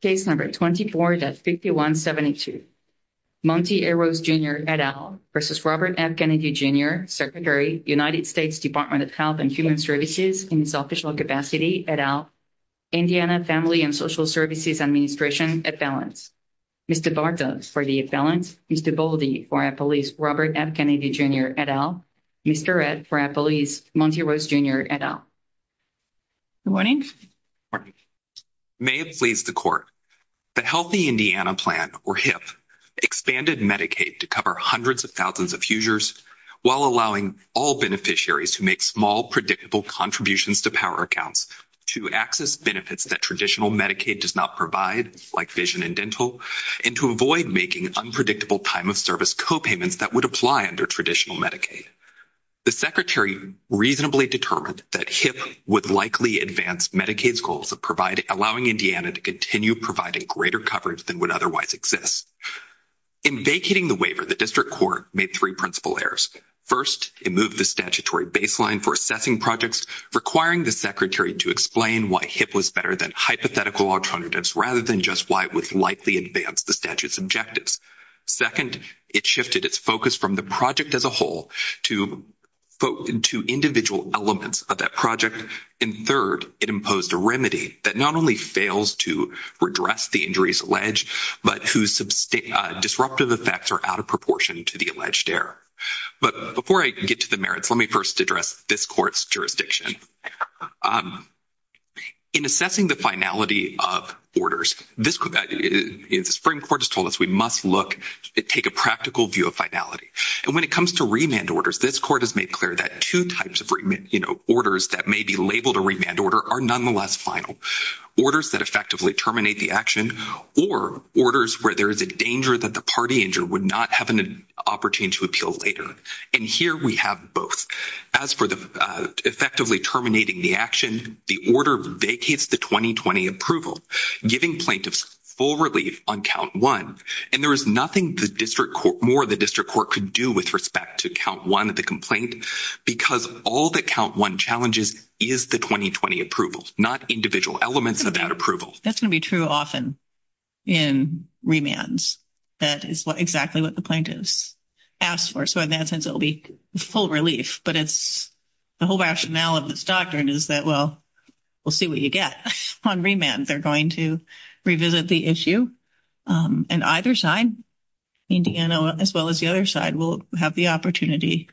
Case No. 24-5172, Monty A. Rose, Jr., et al. v. Robert F. Kennedy, Jr., Secretary, United States Department of Health and Human Services, in its official capacity, et al., Indiana Family and Social Services Administration, et al. Mr. Bartos, for the et al., Mr. Boldy, for Appalachia, Robert F. Kennedy, Jr., et al., Mr. Redd, for Appalachia, Monty Rose, Jr., et al. Good morning. Good morning. May it please the Court, the Healthy Indiana Plan, or HIP, expanded Medicaid to cover hundreds of thousands of users while allowing all beneficiaries who make small, predictable contributions to power accounts to access benefits that traditional Medicaid does not provide, like vision and dental, and to avoid making unpredictable time-of-service copayments that would apply under traditional Medicaid. The Secretary reasonably determined that HIP would likely advance Medicaid's goals of allowing Indiana to continue providing greater coverage than would otherwise exist. In vacating the waiver, the District Court made three principal errors. First, it moved the statutory baseline for assessing projects, requiring the Secretary to explain why HIP was better than hypothetical alternatives rather than just why it would likely advance the statute's objectives. Second, it shifted its focus from the project as a whole to individual elements of that project. And third, it imposed a remedy that not only fails to redress the injuries alleged, but whose disruptive effects are out of proportion to the alleged error. But before I get to the merits, let me first address this Court's jurisdiction. In assessing the finality of orders, the Supreme Court has told us we must take a practical view of finality. And when it comes to remand orders, this Court has made clear that two types of orders that may be labeled a remand order are nonetheless final. Orders that effectively terminate the action, or orders where there is a danger that the party injured would not have an opportunity to appeal later. And here we have both. As for effectively terminating the action, the order vacates the 2020 approval, giving plaintiffs full relief on Count 1. And there is nothing more the District Court could do with respect to Count 1 of the complaint, because all that Count 1 challenges is the 2020 approvals, not individual elements of that approval. That's going to be true often in remands. That is exactly what the plaintiffs ask for. So in that sense, it will be full relief. But the whole rationale of this doctrine is that, well, we'll see what you get on remand. They're going to revisit the issue. And either side, Indiana as well as the other side, will have the opportunity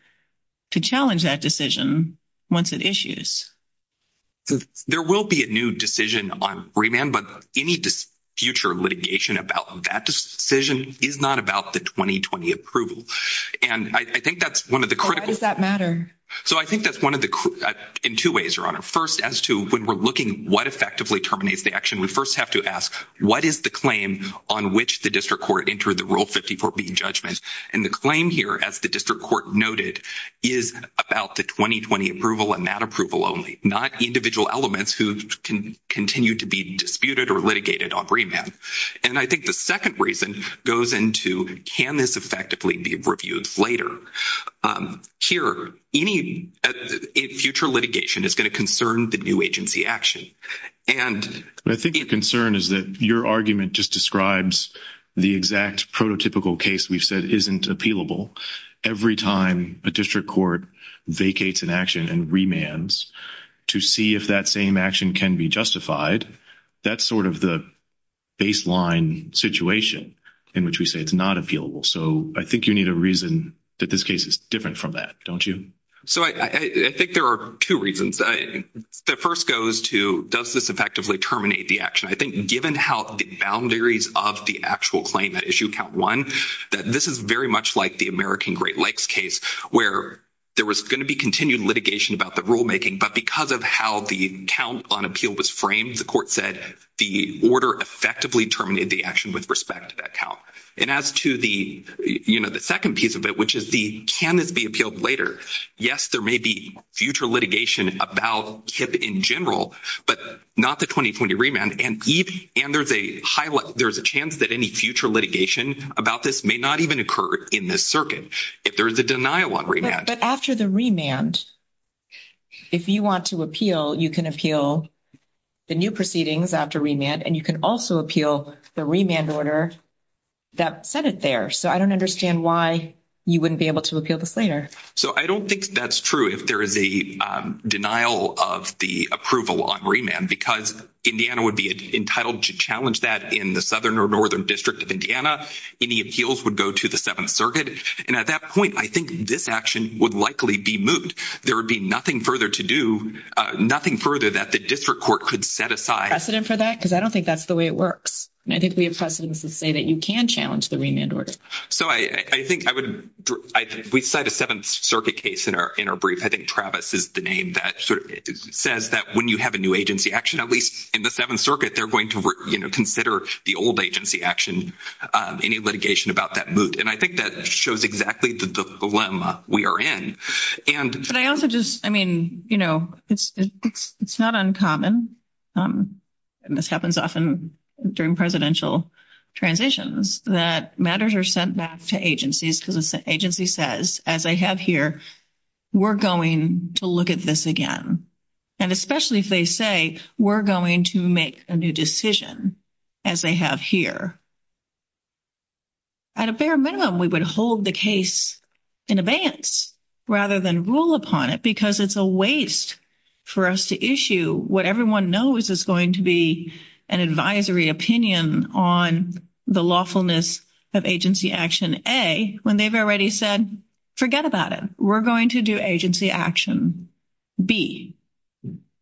to challenge that decision once it issues. There will be a new decision on remand, but any future litigation about that decision is not about the 2020 approval. And I think that's one of the critical— Why does that matter? So I think that's one of the—in two ways, Your Honor. First, as to when we're looking what effectively terminates the action, we first have to ask, what is the claim on which the District Court entered the Rule 54b judgment? And the claim here, as the District Court noted, is about the 2020 approval and that approval only, not individual elements who continue to be disputed or litigated on remand. And I think the second reason goes into, can this effectively be reviewed later? Here, any future litigation is going to concern the new agency action. I think the concern is that your argument just describes the exact prototypical case we've said isn't appealable. Every time a District Court vacates an action and remands to see if that same action can be justified, that's sort of the baseline situation in which we say it's not appealable. So I think you need a reason that this case is different from that, don't you? So I think there are two reasons. The first goes to, does this effectively terminate the action? I think given how the boundaries of the actual claim that issue count one, that this is very much like the American Great Lakes case where there was going to be continued litigation about the rulemaking, but because of how the count on appeal was framed, the court said the order effectively terminated the action with respect to that count. And as to the, you know, the second piece of it, which is the, can this be appealed later? Yes, there may be future litigation about KIPP in general, but not the 2020 remand. And there's a chance that any future litigation about this may not even occur in this circuit if there's a denial on remand. But after the remand, if you want to appeal, you can appeal the new proceedings after remand, and you can also appeal the remand order that said it there. So I don't understand why you wouldn't be able to appeal this later. So I don't think that's true if there is a denial of the approval on remand, because Indiana would be entitled to challenge that in the southern or northern district of Indiana. Any appeals would go to the Seventh Circuit. And at that point, I think this action would likely be moved. There would be nothing further to do, nothing further that the district court could set aside. A precedent for that? Because I don't think that's the way it works. I think the precedent is to say that you can challenge the remand order. So I think we cite a Seventh Circuit case in our brief. I think Travis is the name that says that when you have a new agency action, at least in the Seventh Circuit, they're going to consider the old agency action, any litigation about that moved. And I think that shows exactly the dilemma we are in. But I also just, I mean, you know, it's not uncommon, and this happens often during presidential transitions, that matters are sent back to agencies because the agency says, as I have here, we're going to look at this again. And especially if they say, we're going to make a new decision, as they have here. At a fair minimum, we would hold the case in advance rather than rule upon it, because it's a waste for us to issue what everyone knows is going to be an advisory opinion on the lawfulness of agency action A, when they've already said, forget about it. We're going to do agency action B.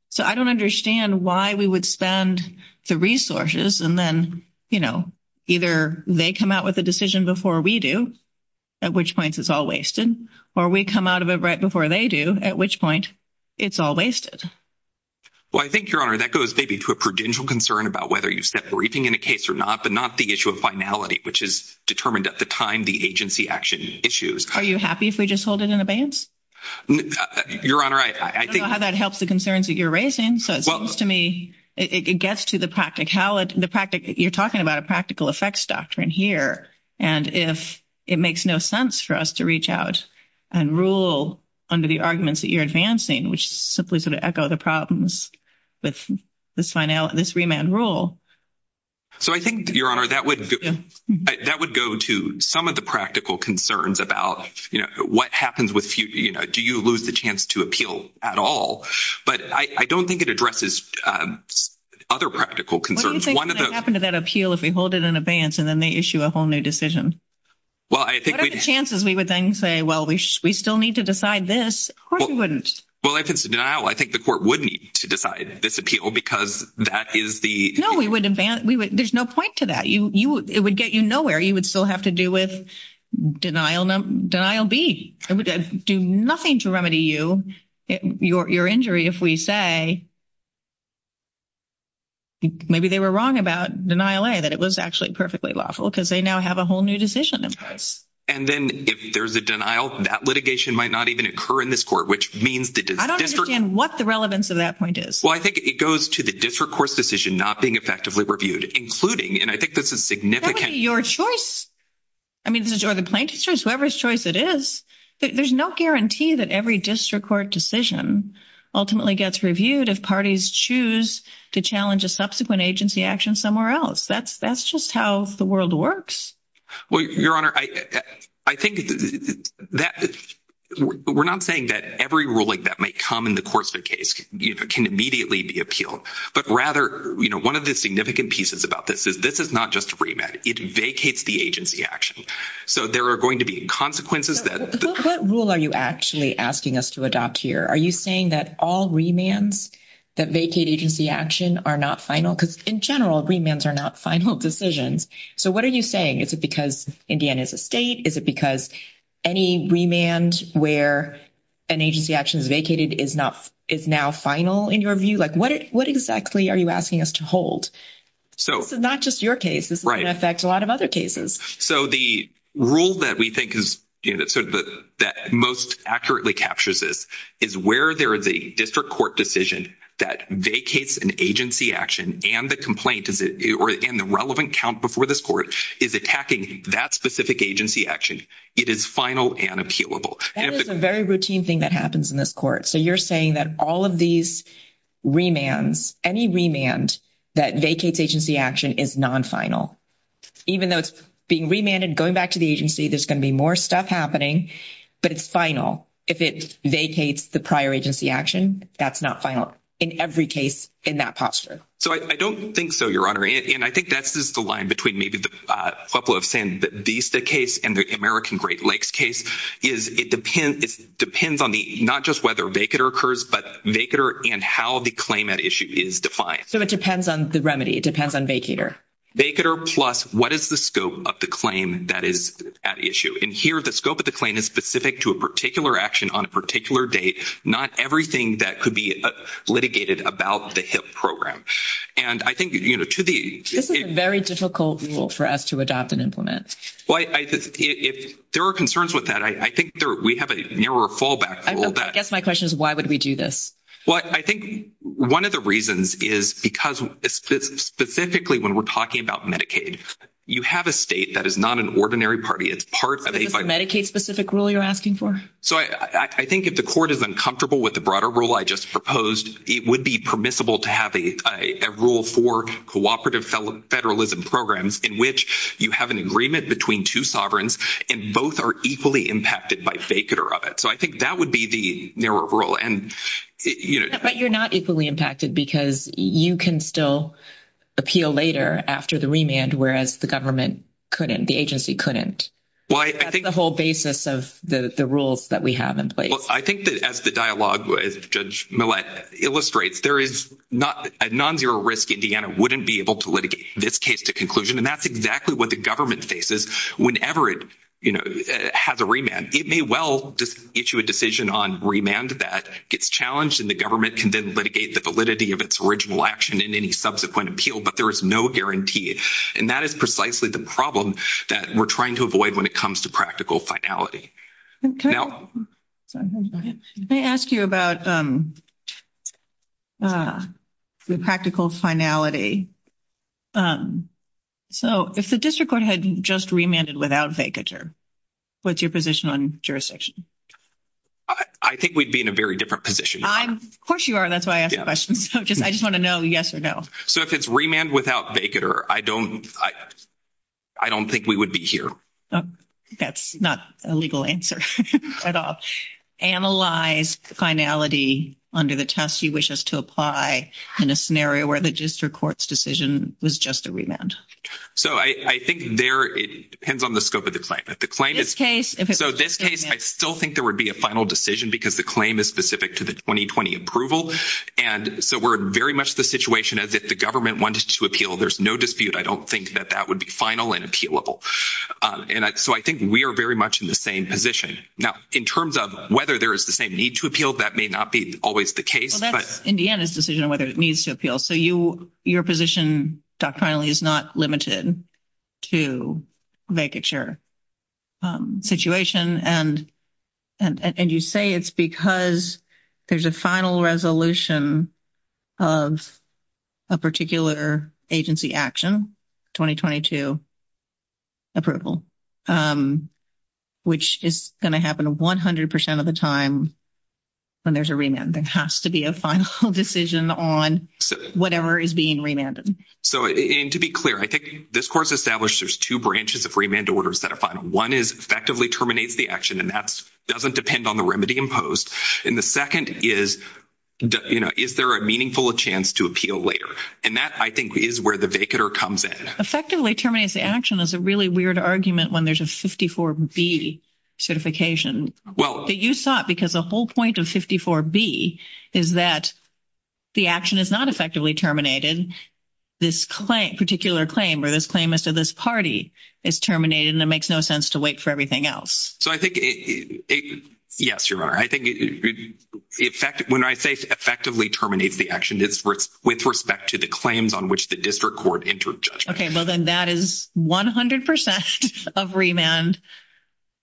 So I don't understand why we would spend the resources and then, you know, either they come out with a decision before we do, at which point it's all wasted, or we come out of it right before they do, at which point it's all wasted. Well, I think, Your Honor, that goes maybe to a prudential concern about whether you set briefing in a case or not, but not the issue of finality, which is determined at the time the agency action issues. Are you happy if we just hold it in advance? Your Honor, I think… I don't know how that helps the concerns that you're raising, so it seems to me it gets to the practicality. You're talking about a practical effects doctrine here, and if it makes no sense for us to reach out and rule under the arguments that you're advancing, which simply sort of echo the problems with this remand rule. So I think, Your Honor, that would go to some of the practical concerns about, you know, what happens with, you know, do you lose the chance to appeal at all? But I don't think it addresses other practical concerns. What do you think would happen to that appeal if we hold it in advance and then they issue a whole new decision? Well, I think… What are the chances we would then say, well, we still need to decide this? Of course we wouldn't. Well, now I think the court would need to decide this appeal because that is the… No, we would… There's no point to that. It would get you nowhere. You would still have to do with denial B. It would do nothing to remedy you, your injury, if we say maybe they were wrong about denial A, that it was actually perfectly lawful because they now have a whole new decision in place. And then if there's a denial, that litigation might not even occur in this court, which means that the district… I don't understand what the relevance of that point is. Well, I think it goes to the district court's decision not being effectively reviewed, including, and I think this is significant… Your choice. I mean, or the plaintiff's choice, whoever's choice it is. There's no guarantee that every district court decision ultimately gets reviewed if parties choose to challenge a subsequent agency action somewhere else. That's just how the world works. Well, Your Honor, I think that we're not saying that every ruling that might come in the course of the case can immediately be appealed. But rather, you know, one of the significant pieces about this is this is not just remand. It vacates the agency action. So, there are going to be consequences that… So, what rule are you actually asking us to adopt here? Are you saying that all remands that vacate agency action are not final? Because in general, remands are not final decisions. So, what are you saying? Is it because Indiana is a state? Is it because any remand where an agency action is vacated is now final in your view? Like, what exactly are you asking us to hold? So, not just your case. This is going to affect a lot of other cases. So, the rule that we think is, you know, that most accurately captures this is where there is a district court decision that vacates an agency action and the complaint and the relevant count before this court is attacking that specific agency action, it is final and appealable. That is a very routine thing that happens in this court. So, you're saying that all of these remands, any remand that vacates agency action is non-final? Even though it's being remanded, going back to the agency, there's going to be more stuff happening, but it's final. If it vacates the prior agency action, that's not final in every case in that posture. So, I don't think so, Your Honor. And I think that's just the line between maybe the Pueblo of San Vista case and the American Great Lakes case is it depends on the, not just whether vacator occurs, but vacator and how the claim at issue is defined. So, it depends on the remedy. It depends on vacator. Vacator plus what is the scope of the claim that is at issue. And here, the scope of the claim is specific to a particular action on a particular date, not everything that could be litigated about the HIP program. And I think, you know, to the... This is a very difficult rule for us to adopt and implement. Well, I just, if there are concerns with that, I think there, we have a mirror callback rule that... I guess my question is why would we do this? Well, I think one of the reasons is because specifically when we're talking about Medicaid, you have a state that is not an ordinary party. It's part of a... Is this Medicaid specific rule you're asking for? So, I think if the court is uncomfortable with the broader rule I just proposed, it would be permissible to have a rule for cooperative federalism programs in which you have an agreement between two sovereigns and both are equally impacted by vacator of it. So, I think that would be the mirror rule. And, you know... But you're not equally impacted because you can still appeal later after the remand, whereas the government couldn't, the agency couldn't. Well, I think... That's the whole basis of the rules that we have in place. Well, I think that as the dialogue with Judge Millett illustrates, there is not a non-zero risk Indiana wouldn't be able to litigate this case to conclusion. And, that's exactly what the government faces whenever it has a remand. It may well issue a decision on remand that gets challenged and the government can then litigate the validity of its original action in any subsequent appeal, but there is no guarantee. And, that is precisely the problem that we're trying to avoid when it comes to practical finality. Can I ask you about the practical finality? So, if the district court had just remanded without vacator, what's your position on jurisdiction? I think we'd be in a very different position. Of course you are. That's why I asked the question. I just want to know yes or no. So, if it's remand without vacator, I don't think we would be here. That's not a legal answer at all. Analyze finality under the test you wish us to apply in a scenario where the district court's decision was just a remand. So, I think there, it depends on the scope of the claim. So, this case, I still think there would be a final decision because the claim is specific to the 2020 approval. And, so we're very much the situation as if the government wanted to appeal. There's no dispute. I don't think that that would be final and appealable. So, I think we are very much in the same position. Now, in terms of whether there is the same need to appeal, that may not be always the case. In the end, it's a decision on whether it needs to appeal. So, your position doctrinally is not limited to vacature situation. And, you say it's because there's a final resolution of a particular agency action, 2022 approval, which is going to happen 100% of the time when there's a remand. There has to be a final decision on whatever is being remanded. So, and to be clear, I think this course establishes two branches of remand orders that are final. One is effectively terminates the action. And, that doesn't depend on the remedy imposed. And, the second is, you know, is there a meaningful chance to appeal later? And, that I think is where the vacater comes in. Effectively terminates the action is a really weird argument when there's a 54B certification. But, you saw it because the whole point of 54B is that the action is not effectively terminated. This particular claim or this claim is to this party is terminated. And, it makes no sense to wait for everything else. So, I think, yes, your honor. I think when I say effectively terminate the action, it's with respect to the claims on which the district court entered judgment. Okay. Well, then that is 100% of remand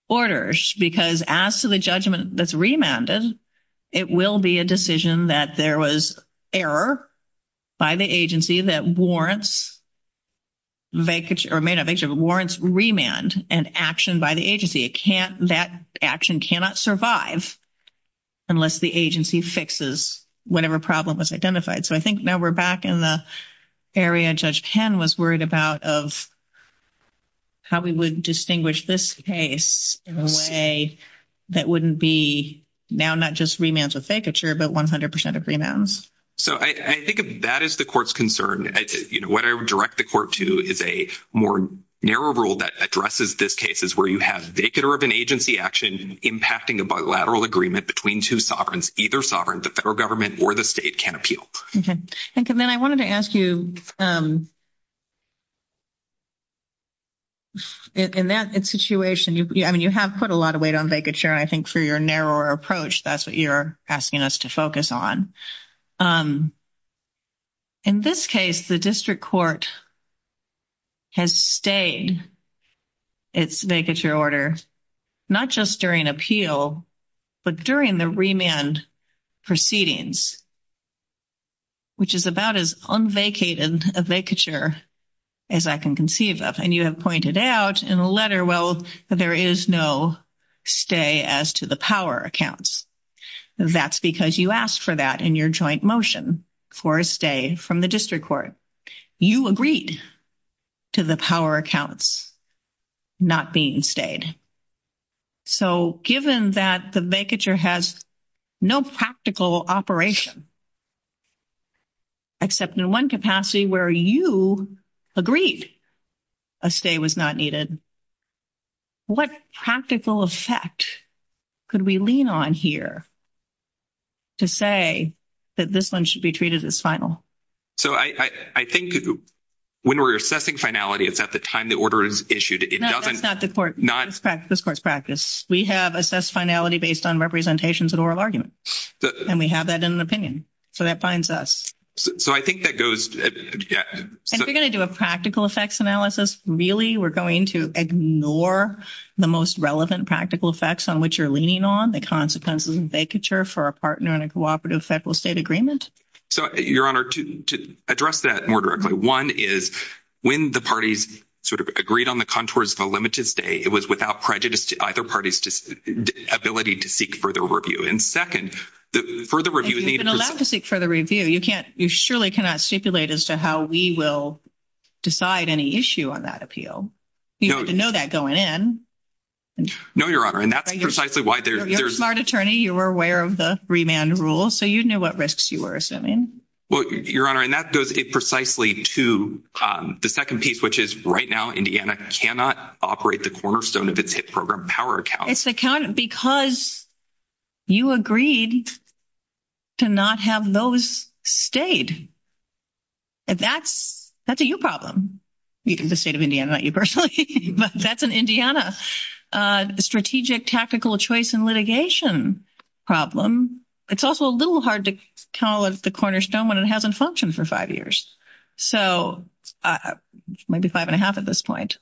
orders. Because, as to the judgment that's remanded, it will be a decision that there was error by the agency that warrants vacature, or may not vacature, but warrants remand and action by the agency. It can't, that action cannot survive unless the agency fixes whatever problem was identified. So, I think now we're back in the area Judge Penn was worried about of how we would distinguish this case in a way that wouldn't be now not just remands with vacature, but 100% of remands. So, I think that is the court's concern. What I would direct the court to is a more narrow rule that addresses this case is where you have vacatur of an agency action impacting a bilateral agreement between two sovereigns, either sovereign to federal government or the state can appeal. Okay. Thank you. And then I wanted to ask you, in that situation, I mean, you have put a lot of weight on vacature. I think for your narrower approach, that's what you're asking us to focus on. In this case, the district court has stayed its vacature order, not just during appeal, but during the remand proceedings, which is about as unvacated a vacature as I can conceive of. And you have pointed out in the letter, well, there is no stay as to the power accounts. That's because you asked for that in your joint motion for a stay from the district court. You agreed to the power accounts not being stayed. So, given that the vacature has no practical operation, except in one capacity where you agreed a stay was not needed, what practical effect could we lean on here to say that this one should be treated as final? So, I think when we're assessing finality, it's at the time the order is issued. No, that's not the court. This court's practice. We have assessed finality based on representations and oral arguments. And we have that in an opinion. So, that binds us. So, I think that goes... And if you're going to do a practical effects analysis, really, we're going to ignore the most relevant practical effects on which you're leaning on, the consequences of vacature for a partner in a cooperative federal state agreement? So, Your Honor, to address that more directly, one is when the parties sort of agreed on the contours of a limited stay, it was without prejudice to either party's ability to seek further review. And second, the further review... You've been allowed to seek further review. You surely cannot stipulate as to how we will decide any issue on that appeal. You have to know that going in. No, Your Honor. And that's precisely why there's... You were a smart attorney. You were aware of the remand rule. So, you knew what risks you were assuming. Well, Your Honor, and that goes precisely to the second piece, which is right now Indiana cannot operate the cornerstone of its HIP program power account. It's because you agreed to not have those stayed. That's a you problem. The state of Indiana, not you personally. But that's an Indiana strategic tactical choice and litigation problem. It's also a little hard to call it the cornerstone when it hasn't functioned for five years. So, maybe five and a half at this point.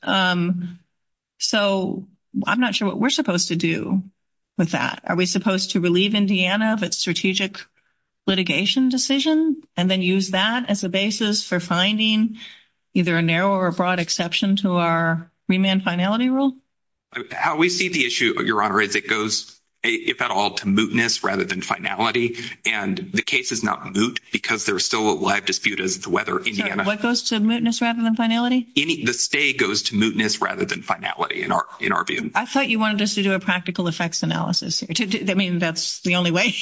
So, I'm not sure what we're supposed to do with that. Are we supposed to relieve Indiana of its strategic litigation decision and then use that as a basis for finding either a narrow or a broad exception to our remand finality rule? How we see the issue, Your Honor, is it goes, if at all, to mootness rather than finality. And the case is not moot because there's still a live dispute as to whether Indiana... What goes to mootness rather than finality? The stay goes to mootness rather than finality in our view. I thought you wanted us to do a practical effects analysis. I mean, that's the only way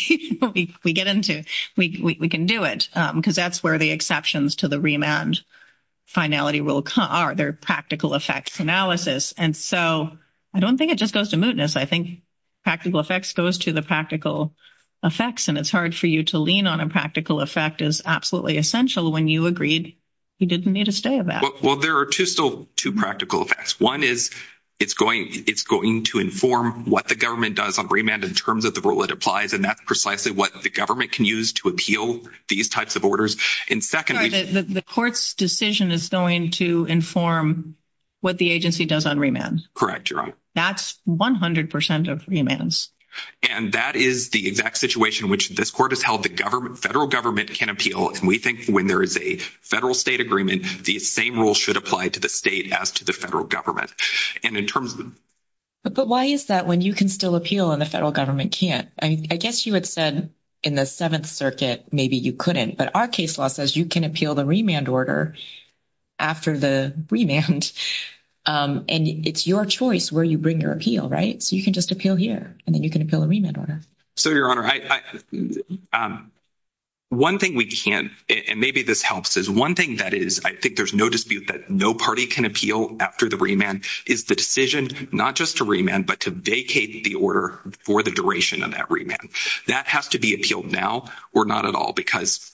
we get into it. We can do it because that's where the exceptions to the remand finality rule are. They're practical effects analysis. And so, I don't think it just goes to mootness. I think practical effects goes to the practical effects. And it's hard for you to lean on a practical effect as absolutely essential when you agreed you didn't need a stay of that. Well, there are two practical effects. One is it's going to inform what the government does on remand in terms of the rule it applies, and that's precisely what the government can use to appeal these types of orders. And secondly... The court's decision is going to inform what the agency does on remands. Correct, Your Honor. That's 100% of remands. And that is the exact situation in which this court has held the federal government can appeal, and we think when there is a federal-state agreement, the same rule should apply to the state as to the federal government. And in terms of... But why is that when you can still appeal and the federal government can't? I mean, I guess you had said in the Seventh Circuit maybe you couldn't, but our case law says you can appeal the remand order after the remand, and it's your choice where you bring your appeal, right? So you can just appeal here, and then you can appeal a remand order. So, Your Honor, one thing we can't, and maybe this helps, is one thing that is I think there's no dispute that no party can appeal after the remand is the decision not just to remand but to vacate the order for the duration of that remand. That has to be appealed now or not at all because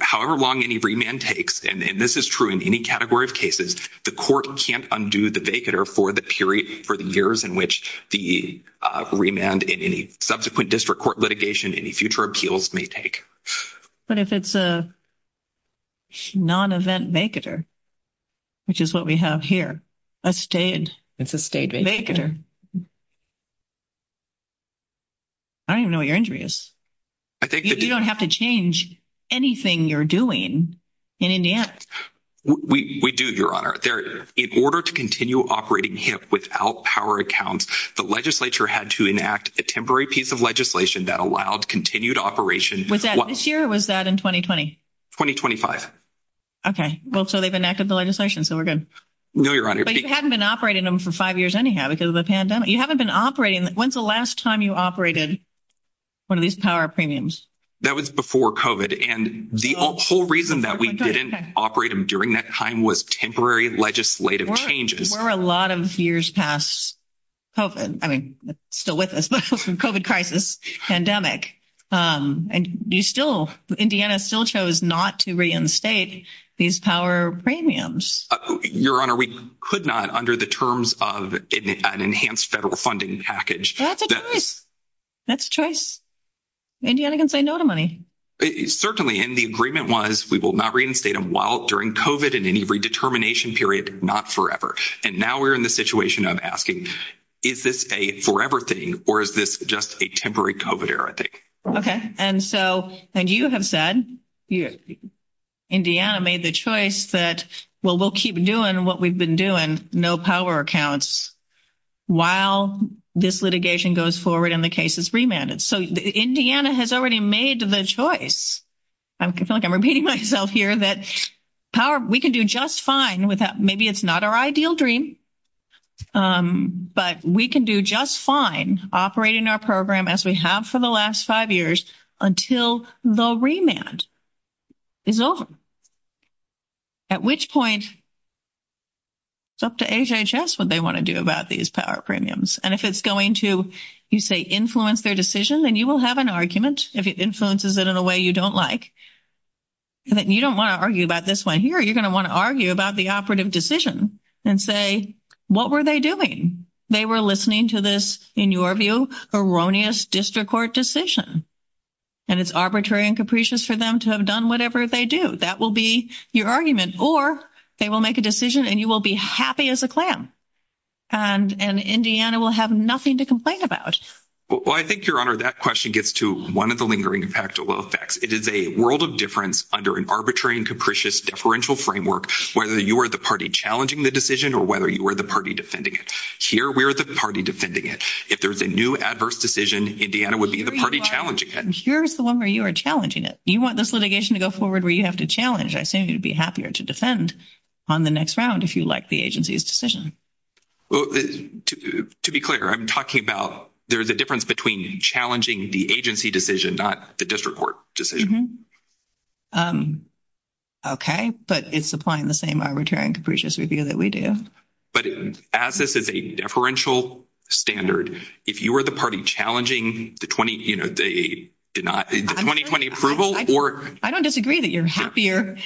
however long any remand takes, and this is true in any category of cases, the court can't undo the vacater for the period, for the years in which the remand in any subsequent district court litigation, any future appeals may take. But if it's a non-event vacater, which is what we have here, a state vacater. I don't even know what your injury is. You don't have to change anything you're doing in Indiana. We do, Your Honor. In order to continue operating HIP without power account, the legislature had to enact a temporary piece of legislation that allowed continued operation. Was that this year or was that in 2020? 2025. Okay. Well, so they've enacted the legislation, so we're good. No, Your Honor. But you haven't been operating them for five years anyhow because of the pandemic. You haven't been operating them. When's the last time you operated one of these power premiums? That was before COVID, and the whole reason that we didn't operate them during that time was temporary legislative changes. We're a lot of years past COVID. I mean, still with us, but COVID crisis, pandemic. And you still, Indiana still chose not to reinstate these power premiums. Your Honor, we could not under the terms of an enhanced federal funding package. That's a choice. That's a choice. Indiana can say no to money. Certainly, and the agreement was we will not reinstate them while during COVID in any redetermination period, not forever. And now we're in the situation of asking, is this a forever thing or is this just a temporary COVID error, I think. Okay. And so, and you have said, Indiana made the choice that, well, we'll keep doing what we've been doing, no power accounts, while this litigation goes forward and the case is remanded. So, Indiana has already made the choice. I feel like I'm repeating myself here that power, we can do just fine without, maybe it's not our ideal dream, but we can do just fine operating our program as we have for the last five years until the remand is over. At which point, it's up to HHS what they want to do about these power premiums. And if it's going to, you say, influence their decision, then you will have an argument if it influences it in a way you don't like. You don't want to argue about this one here. You're going to want to argue about the operative decision and say, what were they doing? They were listening to this, in your view, erroneous district court decision. And it's arbitrary and capricious for them to have done whatever they do. That will be your argument. Or they will make a decision and you will be happy as a clam. And Indiana will have nothing to complain about. Well, I think, Your Honor, that question gets to one of the lingering factual effects. It is a world of difference under an arbitrary and capricious deferential framework whether you are the party challenging the decision or whether you are the party defending it. Here, we are the party defending it. If there's a new adverse decision, Indiana would be the party challenging it. Here is the one where you are challenging it. You want this litigation to go forward where you have to challenge. I assume you would be happier to defend on the next round if you like the agency's decision. Well, to be clear, I'm talking about there's a difference between challenging the agency decision not the district court decision. Okay. But it's applying the same arbitrary and capricious review that we do. But as this is a deferential standard, if you were the party challenging the 2020 approval or... I don't disagree that you're happier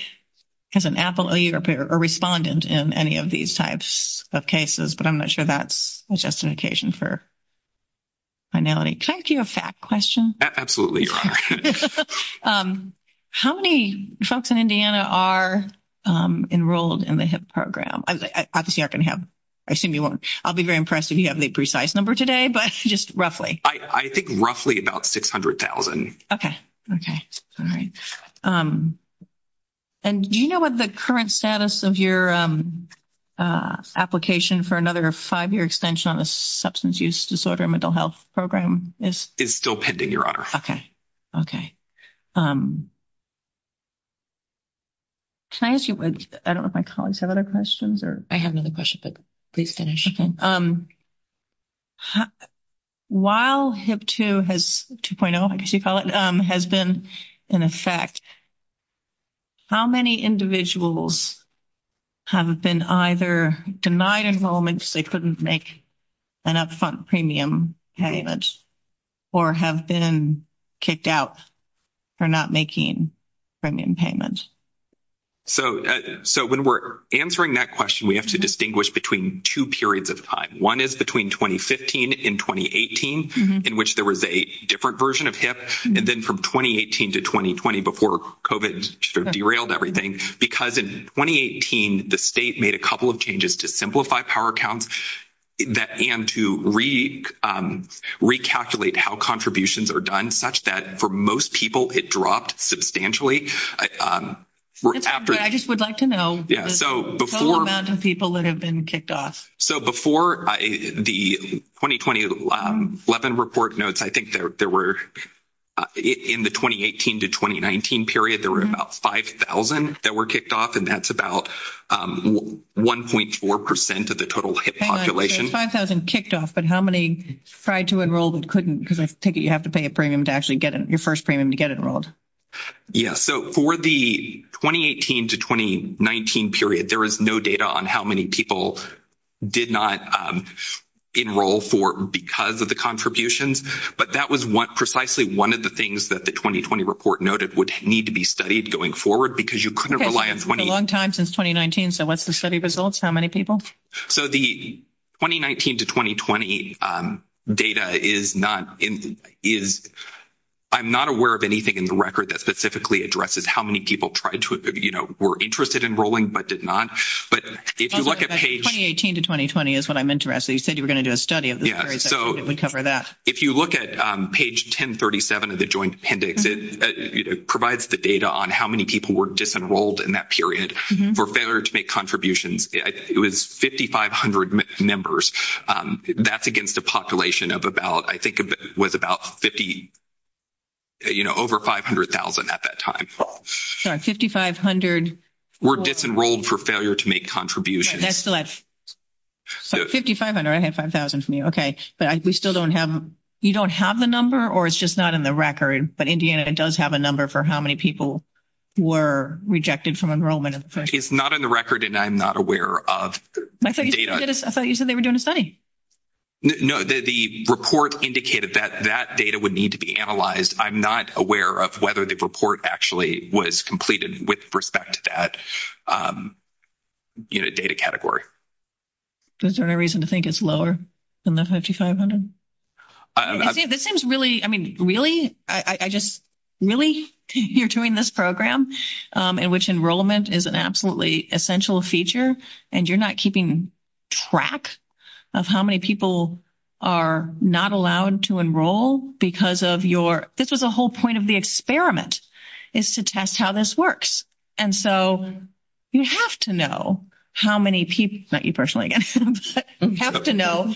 as an appellee or a respondent in any of these types of cases, but I'm not sure that's a justification for finality. Can I ask you a fact question? Absolutely, Your Honor. How many folks in Indiana are enrolled in the HIP program? Obviously, I can have... I'll be very impressed if you have the precise number today, but just roughly. I think roughly about 600,000. Okay. Okay. All right. And do you know what the current status of your application for another five-year extension on the Substance Use Disorder and Mental Health Program is? It's still pending, Your Honor. Okay. Okay. Can I ask you... I don't know if my colleagues have other questions or... I have another question, but please finish. Okay. While HIP-2 has 2.0, I guess you'd call it, has been in effect, how many individuals have been either denied enrollment because they couldn't make an upfront premium payment or have been kicked out for not making premium payments? So when we're answering that question, we have to distinguish between two periods of time. One is between 2015 and 2018, in which there was a different version of HIP, and then from 2018 to 2020 before COVID derailed everything. Because in 2018, the state made a couple of changes to simplify power counts and to recalculate how contributions are done such that for most people it dropped substantially. I just would like to know the total amount of people that have been kicked off. So before the 2020-11 report notes, I think there were, in the 2018 to 2019 period, there were about 5,000 that were kicked off, and that's about 1.4% of the total HIP population. 5,000 kicked off, but how many tried to enroll but couldn't because you have to pay a premium to actually get your first premium to get enrolled? Yes. So for the 2018 to 2019 period, there was no data on how many people did not enroll because of the contributions. But that was precisely one of the things that the 2020 report noted would need to be studied going forward because you couldn't rely on 20... A long time since 2019, so what's the study results? How many people? So the 2019 to 2020 data is not in... I'm not aware of anything in the record that specifically addresses how many people tried to, you know, were interested in enrolling but did not. But if you look at page... 2018 to 2020 is what I'm interested. You said you were going to do a study of the period that would cover that. If you look at page 1037 of the Joint Appendix, it provides the data on how many people were disenrolled in that period for failure to make contributions. It was 5,500 members. That's against a population of about, I think it was about 50... you know, over 500,000 at that time. Sorry, 5,500... Were disenrolled for failure to make contributions. That's less. 5,500. I have 5,000 from you. Okay. But we still don't have... You don't have the number or it's just not in the record? But Indiana does have a number for how many people were rejected from enrollment. It's not in the record and I'm not aware of the data. I thought you said they were doing a study. No, the report indicated that that data would need to be analyzed. I'm not aware of whether the report actually was completed with respect to that, you know, data category. Is there any reason to think it's lower than the 5,500? This seems really... I mean, really? I just... You're doing this program in which enrollment is an absolutely essential feature and you're not keeping track of how many people are not allowed to enroll because of your... This is the whole point of the experiment is to test how this works. And so you have to know how many people... Not you personally again. You have to know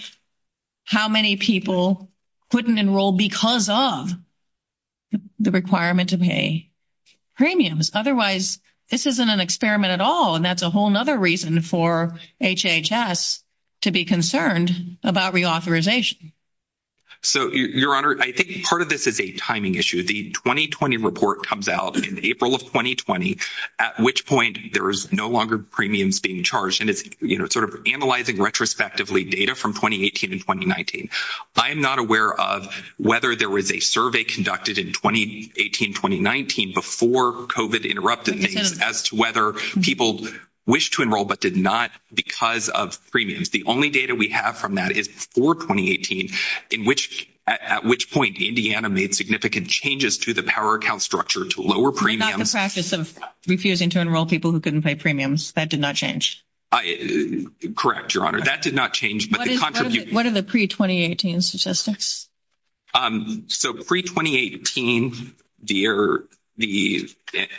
how many people couldn't enroll because of the requirement to pay premiums. Otherwise, this isn't an experiment at all and that's a whole other reason for HHS to be concerned about reauthorization. So, Your Honor, I think part of this is a timing issue. The 2020 report comes out in April of 2020, at which point there is no longer premiums being charged. And it's, you know, sort of analyzing retrospectively data from 2018 and 2019. I am not aware of whether there was a survey conducted in 2018-2019 before COVID interrupted things as to whether people wished to enroll but did not because of premiums. The only data we have from that is for 2018, at which point Indiana made significant changes to the power account structure to lower premiums. It's not the practice of refusing to enroll people who couldn't pay premiums. That did not change. Correct, Your Honor. That did not change. What are the pre-2018 statistics? So, pre-2018, the...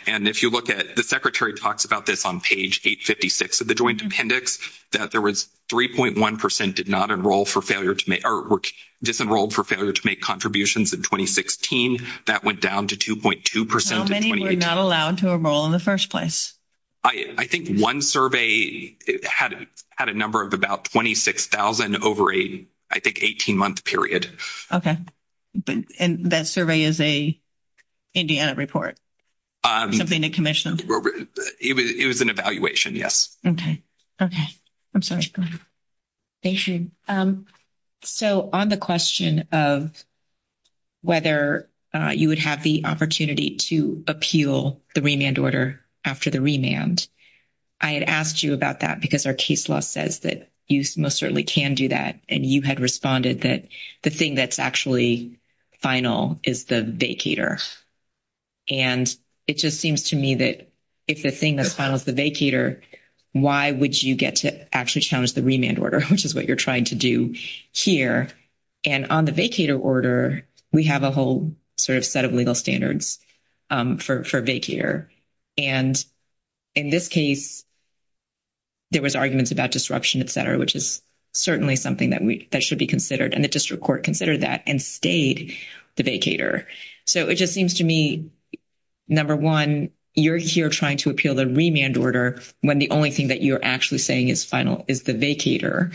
And if you look at... The Secretary talks about this on page 856 of the Joint Appendix, that there was 3.1% did not enroll for failure to make... or were disenrolled for failure to make contributions in 2016. That went down to 2.2% in 2018. How many were not allowed to enroll in the first place? I think one survey had a number of about 26,000 over a, I think, 18-month period. Okay. And that survey is a Indiana report? Of Indiana Commission? It was an evaluation, yes. Okay. Okay. I'm sorry. Thank you. So, on the question of whether you would have the opportunity to appeal the remand order after the remand, I had asked you about that because our case law says that you most certainly can do that. And you had responded that the thing that's actually final is the vacator. And it just seems to me that if the thing that's final is the vacator, why would you get to actually challenge the remand order, which is what you're trying to do here? And on the vacator order, we have a whole sort of set of legal standards for vacator. And in this case, there was arguments about disruption, et cetera, which is certainly something that should be considered. And the district court considered that and stayed the vacator. So, it just seems to me, number one, you're here trying to appeal the remand order when the only thing that you're actually saying is final is the vacator.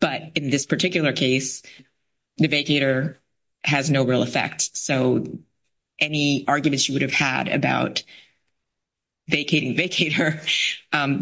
But in this particular case, the vacator has no real effect. So, any arguments you would have had about vacating vacator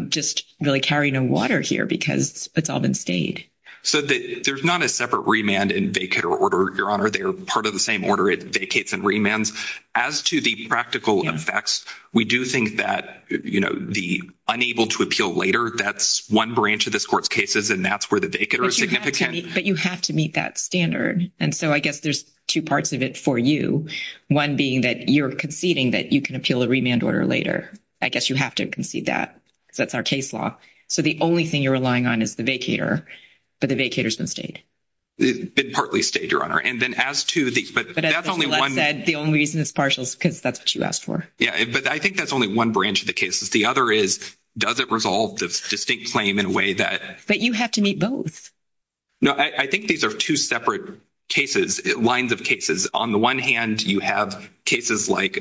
just really carry no water here because it's all been stayed. So, there's not a separate remand and vacator order, Your Honor. They are part of the same order. It vacates and remands. As to the practical effects, we do think that, you know, the unable to appeal later, that's one branch of this court's cases, and that's where the vacator is significant. But you have to meet that standard. And so, I guess there's two parts of it for you, one being that you're conceding that you can appeal the remand order later. I guess you have to concede that because that's our case law. So, the only thing you're relying on is the vacator, but the vacator's been stayed. It's been partly stayed, Your Honor. And then as to the – but that's only one – The only reason it's partial is because that's what you asked for. Yeah, but I think that's only one branch of the case. The other is does it resolve the state claim in a way that – But you have to meet both. No, I think these are two separate cases, lines of cases. On the one hand, you have cases like,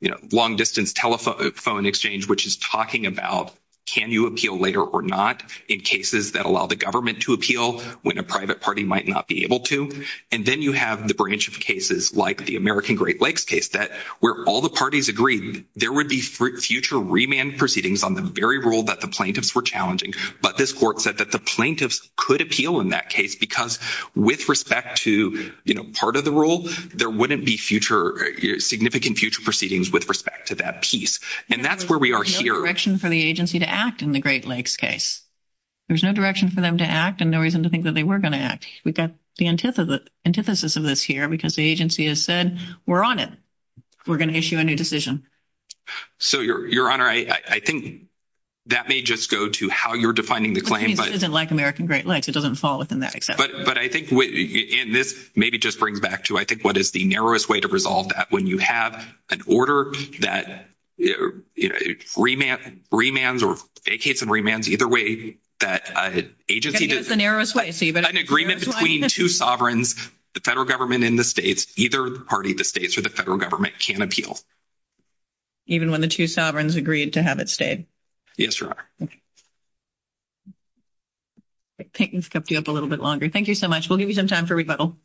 you know, long-distance telephone exchange, which is talking about can you appeal later or not in cases that allow the government to appeal when a private party might not be able to. And then you have the branch of cases like the American Great Lakes case that where all the parties agreed there would be future remand proceedings on the very rule that the plaintiffs were challenging. But this court said that the plaintiffs could appeal in that case because with respect to, you know, part of the rule, there wouldn't be future – significant future proceedings with respect to that piece. And that's where we are here. There's no direction for the agency to act in the Great Lakes case. There's no direction for them to act and no reason to think that they were going to act. We've got the antithesis of this here because the agency has said we're on it. We're going to issue a new decision. So, Your Honor, I think that may just go to how you're defining the claim. But I think this is like American Great Lakes. It doesn't fall within that exception. But I think – and this maybe just brings back to I think what is the narrowest way to resolve that. When you have an order that remands or vacates and remands either way, that agency – That's the narrowest way, Stephen. If there's an agreement between two sovereigns, the federal government and the states, either the party of the states or the federal government can appeal. Even when the two sovereigns agreed to have it stayed? Yes, Your Honor. Peyton's kept you up a little bit longer. Thank you so much. We'll give you some time for rebuttal.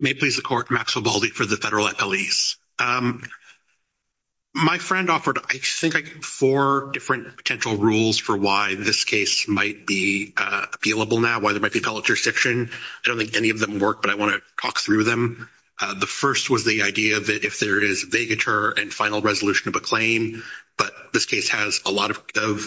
May it please the Court. Maxwell Baldy for the Federal Lease. My friend offered – I think I gave four different potential rules for why this case might be appealable now, why they might be called a jurisdiction. I don't think any of them work, but I want to talk through them. The first was the idea that if there is vacatur and final resolution of a claim, but this case has a lot of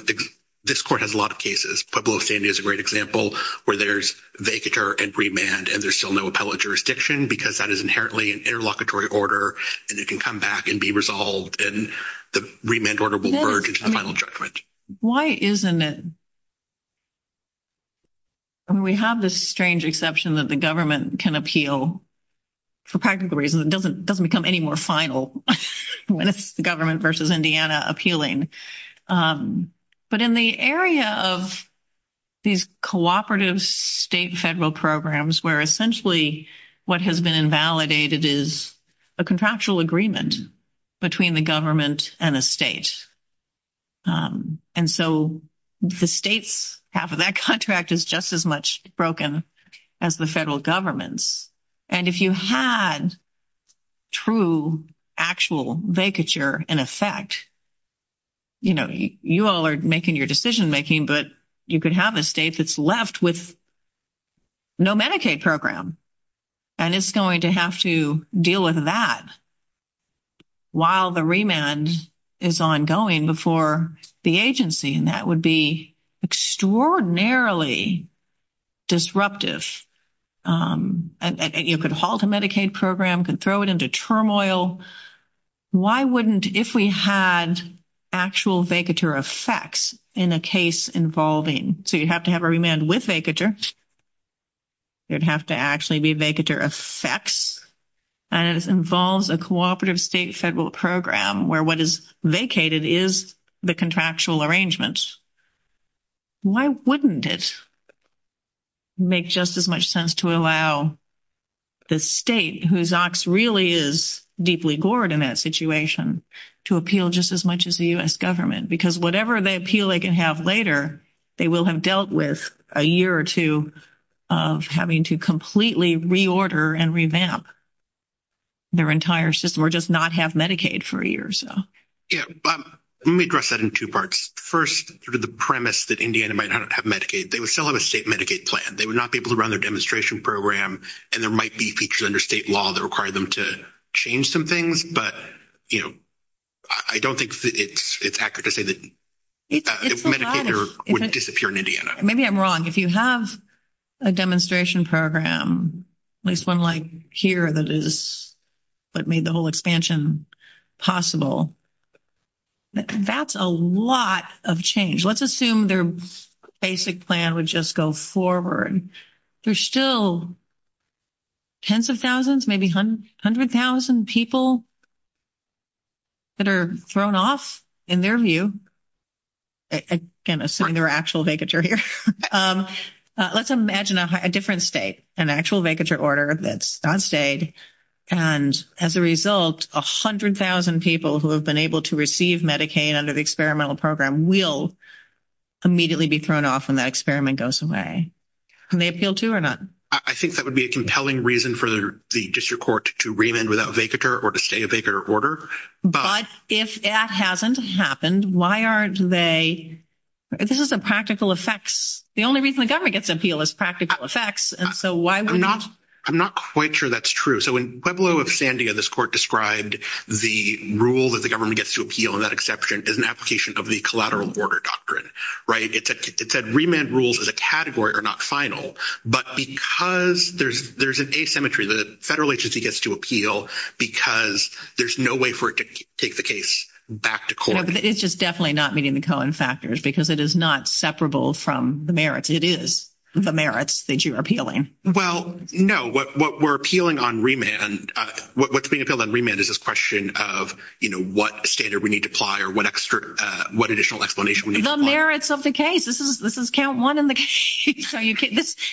– this court has a lot of cases. Pueblo of San Diego is a great example where there's vacatur and remand and there's still no appellate jurisdiction because that is inherently an interlocutory order and it can come back and be resolved and the remand order will merge into the final judgment. Why isn't it – we have this strange exception that the government can appeal for practical reasons. It doesn't become any more final when it's the government versus Indiana appealing. But in the area of these cooperative state federal programs where essentially what has been invalidated is a contractual agreement between the government and a state. And so the state's half of that contract is just as much broken as the federal government's. And if you had true actual vacatur in effect, you know, you all are making your decision making, but you could have a state that's left with no Medicaid program. And it's going to have to deal with that while the remand is ongoing before the agency, and that would be extraordinarily disruptive. And you could halt a Medicaid program, could throw it into turmoil. Why wouldn't – if we had actual vacatur effects in a case involving – so you'd have to have a remand with vacatur. It would have to actually be vacatur effects. And it involves a cooperative state federal program where what is vacated is the contractual arrangements. Why wouldn't it make just as much sense to allow the state, whose ox really is deeply gored in that situation, to appeal just as much as the U.S. government? Because whatever appeal they can have later, they will have dealt with a year or two of having to completely reorder and revamp their entire system or just not have Medicaid for a year or so. Yeah. Let me address that in two parts. First, sort of the premise that Indiana might not have Medicaid, they would still have a state Medicaid plan. They would not be able to run their demonstration program, and there might be features under state law that require them to change some things. But, you know, I don't think it's accurate to say that Medicaid would disappear in Indiana. Maybe I'm wrong. If you have a demonstration program, at least one like here that made the whole expansion possible, that's a lot of change. Let's assume their basic plan would just go forward. There's still tens of thousands, maybe 100,000 people that are thrown off, in their view. I'm going to say their actual vacature here. Let's imagine a different state, an actual vacature order that's not stayed. And as a result, 100,000 people who have been able to receive Medicaid under the experimental program will immediately be thrown off when that experiment goes away. Can they appeal to it or not? I think that would be a compelling reason for the district court to remand without a vacature or to stay a vacature order. But if that hasn't happened, why aren't they – this is a practical effect. The only reason the government gets an appeal is practical effects. I'm not quite sure that's true. In Pueblo of Sandia, this court described the rule that the government gets to appeal, and that exception is an application of the collateral order doctrine. It said remand rules as a category are not final. But because there's an asymmetry, the federal agency gets to appeal because there's no way for it to take the case back to court. It's just definitely not meeting the Cohen factors because it is not separable from the merits. It is the merits that you're appealing. Well, no. What we're appealing on remand – what's being appealed on remand is this question of, you know, what standard we need to apply or what extra – what additional explanation we need to apply. The merits of the case. This is count one in the case.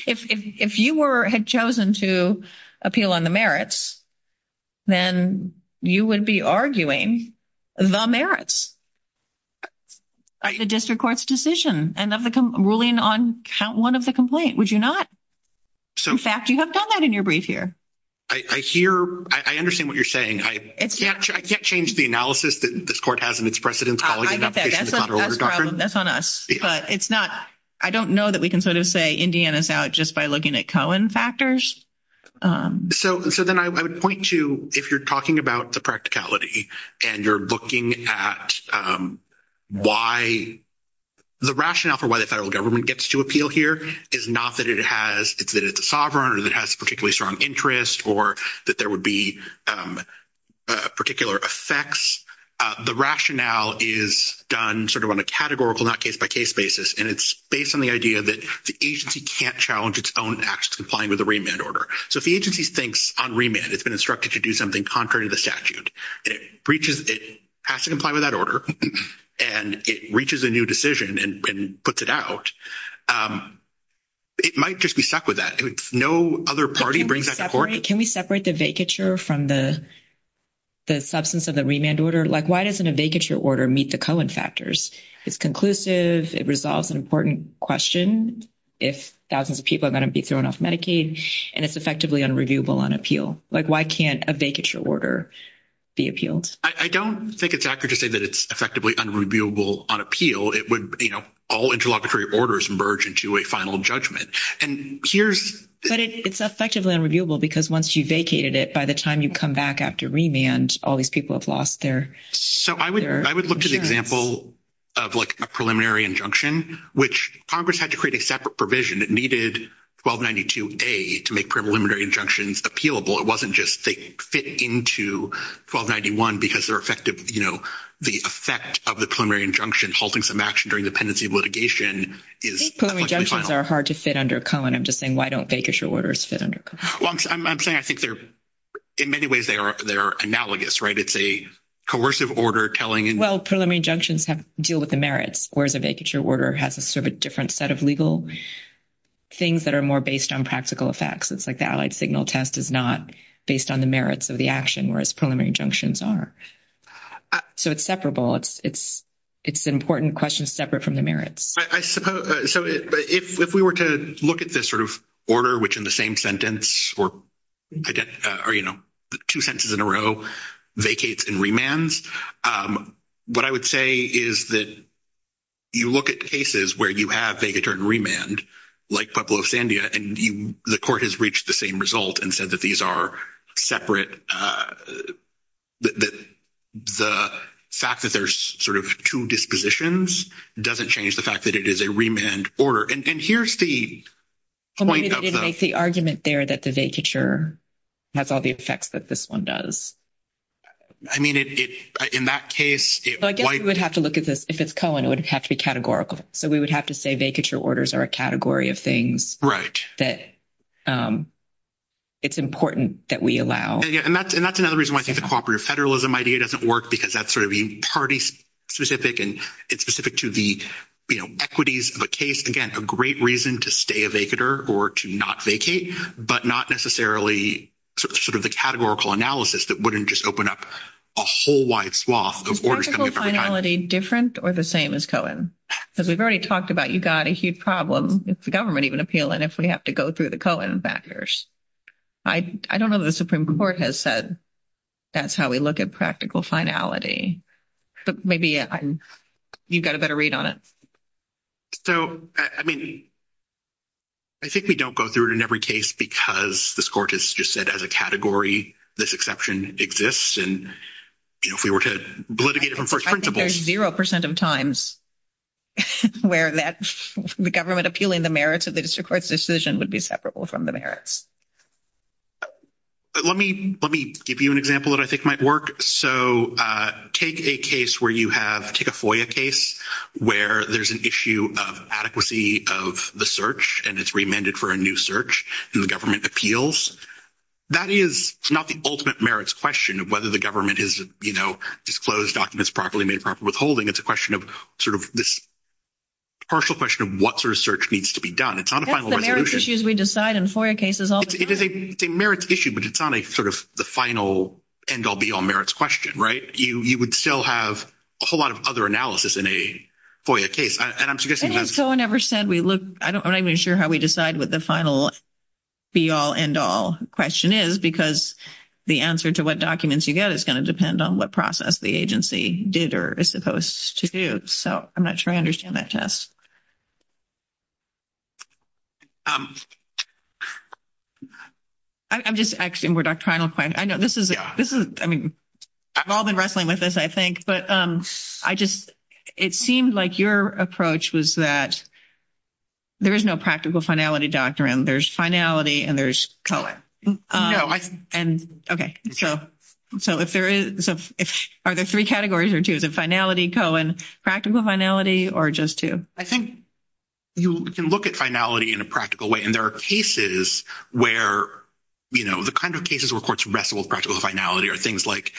If you were – had chosen to appeal on the merits, then you would be arguing the merits of the district court's decision and of the ruling on count one of the complaint, would you not? In fact, you have done that in your brief here. I hear – I understand what you're saying. I can't change the analysis that this court hasn't expressed it in college. I get that. That's on us. But it's not – I don't know that we can sort of say Indiana's out just by looking at Cohen factors. So then I would point to if you're talking about the practicality and you're looking at why – the rationale for why the federal government gets to appeal here is not that it has – it's that it's sovereign or that it has a particularly strong interest or that there would be particular effects. The rationale is done sort of on a categorical, not case-by-case basis, and it's based on the idea that the agency can't challenge its own acts complying with the remand order. So if the agency thinks on remand it's been instructed to do something contrary to the statute, it reaches – it has to comply with that order, and it reaches a new decision and puts it out, it might just be stuck with that. No other party brings that to court. Can we separate the vacature from the substance of the remand order? Like why doesn't a vacature order meet the Cohen factors? It's conclusive. It resolves an important question if thousands of people are going to be thrown off Medicaid, and it's effectively unreviewable on appeal. Like why can't a vacature order be appealed? I don't think it's accurate to say that it's effectively unreviewable on appeal. It would, you know, all interlocutory orders merge into a final judgment. But it's effectively unreviewable because once you vacated it, by the time you come back after remand, all these people have lost their insurance. So I would look to the example of, like, a preliminary injunction, which Congress had to create a separate provision. It needed 1292A to make preliminary injunctions appealable. It wasn't just they fit into 1291 because they're effective, you know, the effect of the preliminary injunction halting some action during the pendency litigation is – I think preliminary injunctions are hard to fit under Cohen. I'm just saying why don't vacature orders fit under Cohen? Well, I'm saying I think they're – in many ways they are analogous, right? It's a coercive order telling – Well, preliminary injunctions deal with the merits, whereas a vacature order has a sort of different set of legal things that are more based on practical effects. It's like the allied signal test is not based on the merits of the action, whereas preliminary injunctions are. So it's separable. It's an important question separate from the merits. I suppose – so if we were to look at this sort of order, which in the same sentence or, you know, two sentences in a row vacates and remands, what I would say is that you look at cases where you have vacature and remand, like Pueblo of Sandia, and the court has reached the same result and said that these are separate – the fact that there's sort of two dispositions doesn't change the fact that it is a remand order. And here's the point of the – It makes the argument there that the vacature has all the effects that this one does. I mean, in that case – Well, I guess we would have to look at this – if it's Cohen, it would have to be categorical. So we would have to say vacature orders are a category of things. Right. That it's important that we allow. And that's another reason why I think the cooperative federalism idea doesn't work, because that's sort of party-specific, and it's specific to the, you know, equities of a case. Again, a great reason to stay a vacater or to not vacate, but not necessarily sort of the categorical analysis that wouldn't just open up a whole wide swath of orders. Is practical finality different or the same as Cohen? Because we've already talked about you've got a huge problem with the government even appealing if we have to go through the Cohen factors. I don't know that the Supreme Court has said that's how we look at practical finality. But maybe you've got a better read on it. So, I mean, I think we don't go through it in every case because this Court has just said as a category this exception exists. And, you know, if we were to litigate it from first principles. I think there's zero percent of times where the government appealing the merits of the district court's decision would be separable from the merits. Let me give you an example that I think might work. So, take a case where you have, take a FOIA case where there's an issue of adequacy of the search and it's remanded for a new search and the government appeals. That is not the ultimate merits question of whether the government has, you know, disclosed documents properly and made proper withholding. It's a question of sort of this partial question of what sort of search needs to be done. It's not a final resolution. That's the merits issues we decide in FOIA cases all the time. It is a merits issue, but it's not a sort of the final end-all, be-all merits question, right? You would still have a whole lot of other analysis in a FOIA case. Has anyone ever said we look, I'm not even sure how we decide what the final be-all, end-all question is, because the answer to what documents you get is going to depend on what process the agency did or is supposed to do. So, I'm not sure I understand that, Tess. I'm just asking more doctrinal questions. I know this is, I mean, I've all been wrestling with this, I think. But I just, it seemed like your approach was that there is no practical finality doctrine. There's finality and there's COIN. No. Okay. So, are there three categories or two? Is it finality, COIN, practical finality, or just two? I think you can look at finality in a practical way, and there are cases where, you know, the kind of cases where courts wrestle with practical finality are things like,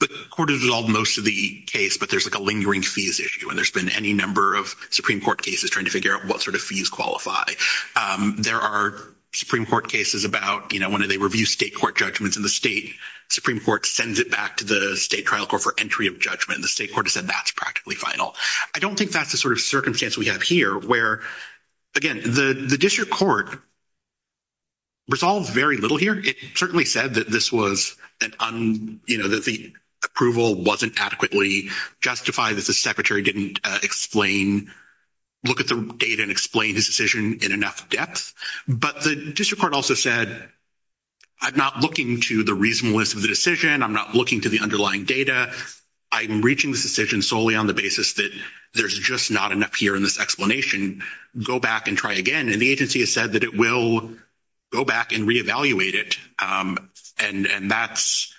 the court has resolved most of the case, but there's, like, a lingering fees issue, and there's been any number of Supreme Court cases trying to figure out what sort of fees qualify. There are Supreme Court cases about, you know, when they review state court judgments, and the state Supreme Court sends it back to the state trial court for entry of judgment, and the state court has said that's practically final. I don't think that's the sort of circumstance we have here, where, again, the district court resolved very little here. It certainly said that this was an, you know, that the approval wasn't adequately justified, that the secretary didn't explain, look at the data and explain his decision in enough depth, but the district court also said, I'm not looking to the reasonableness of the decision. I'm not looking to the underlying data. I'm reaching this decision solely on the basis that there's just not enough here in this explanation. Go back and try again, and the agency has said that it will go back and reevaluate it, and that's,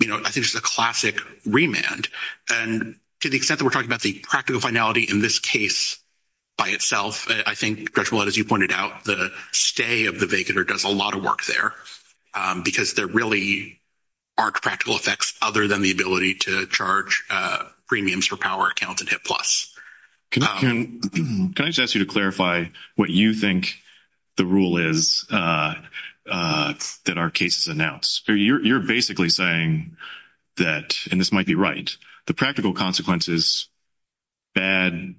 you know, I think it's a classic remand. And to the extent that we're talking about the practical finality in this case by itself, I think, Judge Millett, as you pointed out, the stay of the vacator does a lot of work there because there really aren't practical effects other than the ability to charge premiums for power account in HIP plus. Can I just ask you to clarify what you think the rule is that our case has announced? You're basically saying that, and this might be right, the practical consequences, bad,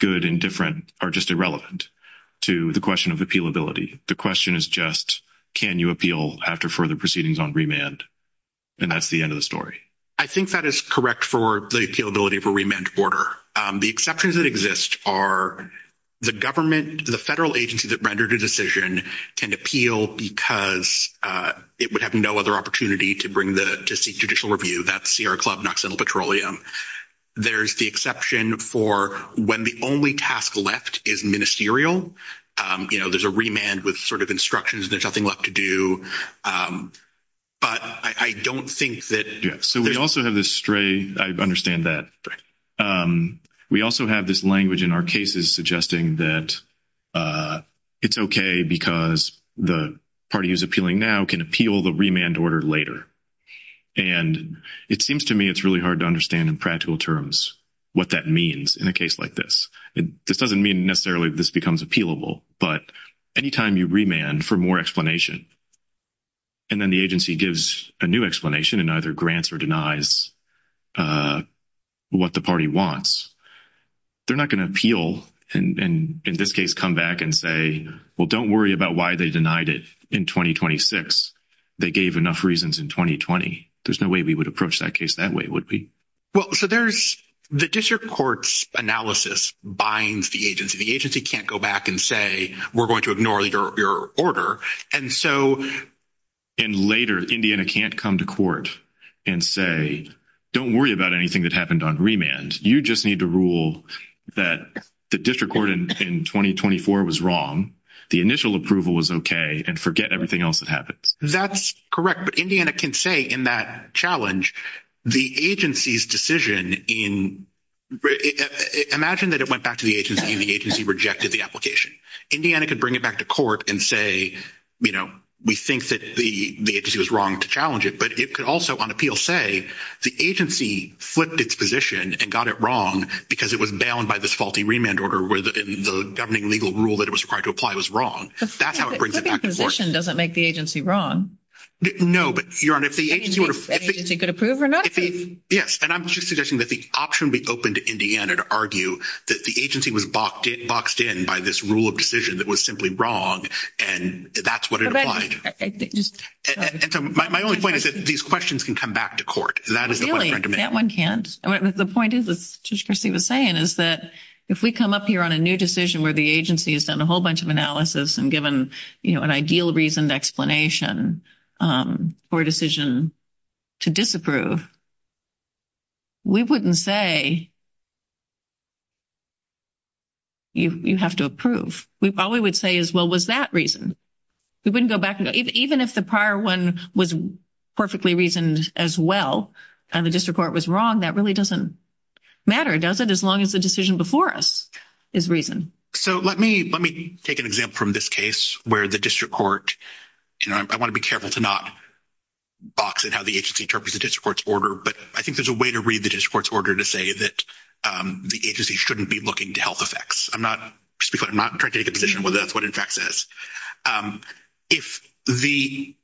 good, and different are just irrelevant to the question of appealability. The question is just can you appeal after further proceedings on remand, and that's the end of the story. I think that is correct for the appealability of a remand order. The exceptions that exist are the government, the federal agency that rendered a decision can appeal because it would have no other opportunity to seek judicial review. That's Sierra Club, Knoxville Petroleum. There's the exception for when the only task left is ministerial. You know, there's a remand with sort of instructions. There's nothing left to do. But I don't think that— Yeah, so we also have this stray—I understand that. Right. We also have this language in our cases suggesting that it's okay because the party who's appealing now can appeal the remand order later. And it seems to me it's really hard to understand in practical terms what that means in a case like this. This doesn't mean necessarily this becomes appealable, but any time you remand for more explanation and then the agency gives a new explanation and either grants or denies what the party wants, they're not going to appeal and in this case come back and say, well, don't worry about why they denied it in 2026. They gave enough reasons in 2020. There's no way we would approach that case that way, would we? Well, so there's—the district court's analysis binds the agency. The agency can't go back and say, we're going to ignore your order. And so— And later, Indiana can't come to court and say, don't worry about anything that happened on remand. You just need to rule that the district court in 2024 was wrong, the initial approval was okay, and forget everything else that happened. That's correct. But Indiana can say in that challenge the agency's decision in—imagine that it went back to the agency and the agency rejected the application. Indiana could bring it back to court and say, you know, we think that the agency was wrong to challenge it, but it could also on appeal say the agency flipped its position and got it wrong because it was bound by this faulty remand order where the governing legal rule that it was required to apply was wrong. That's how it brings it back to court. But the decision doesn't make the agency wrong. No, but, Your Honor, if the agency— If the agency could approve or not. Yes, and I'm just suggesting that the option would be open to Indiana to argue that the agency was boxed in by this rule of decision that was simply wrong, and that's what it applied. And so my only point is that these questions can come back to court. That is the question I'm trying to make. Really, that one can't. The point is, as Judge Christie was saying, is that if we come up here on a new decision where the agency has done a whole bunch of analysis and given, you know, an ideal reasoned explanation for a decision to disapprove, we wouldn't say you have to approve. All we would say is, well, was that reasoned? We wouldn't go back and—even if the prior one was perfectly reasoned as well and the district court was wrong, that really doesn't matter, does it, as long as the decision before us is reasoned? So let me take an example from this case where the district court— and I want to be careful to not box in how the agency interprets the district court's order, but I think there's a way to read the district court's order to say that the agency shouldn't be looking to health effects. I'm not—just because I'm not trying to take a position whether that's what in fact it is. If the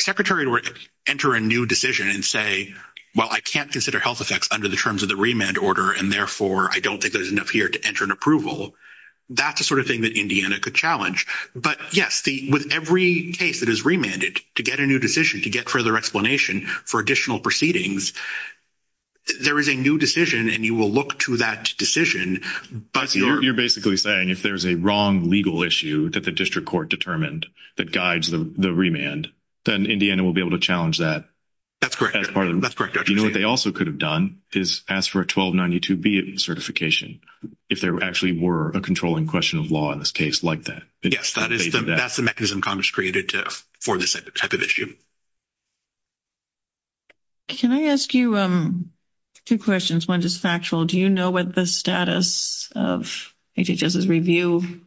secretary were to enter a new decision and say, well, I can't consider health effects under the terms of the remand order, and therefore I don't think there's enough here to enter an approval, that's the sort of thing that Indiana could challenge. But, yes, with every case that is remanded, to get a new decision, to get further explanation for additional proceedings, there is a new decision, and you will look to that decision, but— You're basically saying if there's a wrong legal issue that the district court determined that guides the remand, then Indiana will be able to challenge that. That's correct. You know what they also could have done is asked for a 1292B certification, if there actually were a controlling question of law in this case like that. Yes, that's the mechanism Congress created for this type of issue. Can I ask you two questions? One is factual. Do you know what the status of HHS's review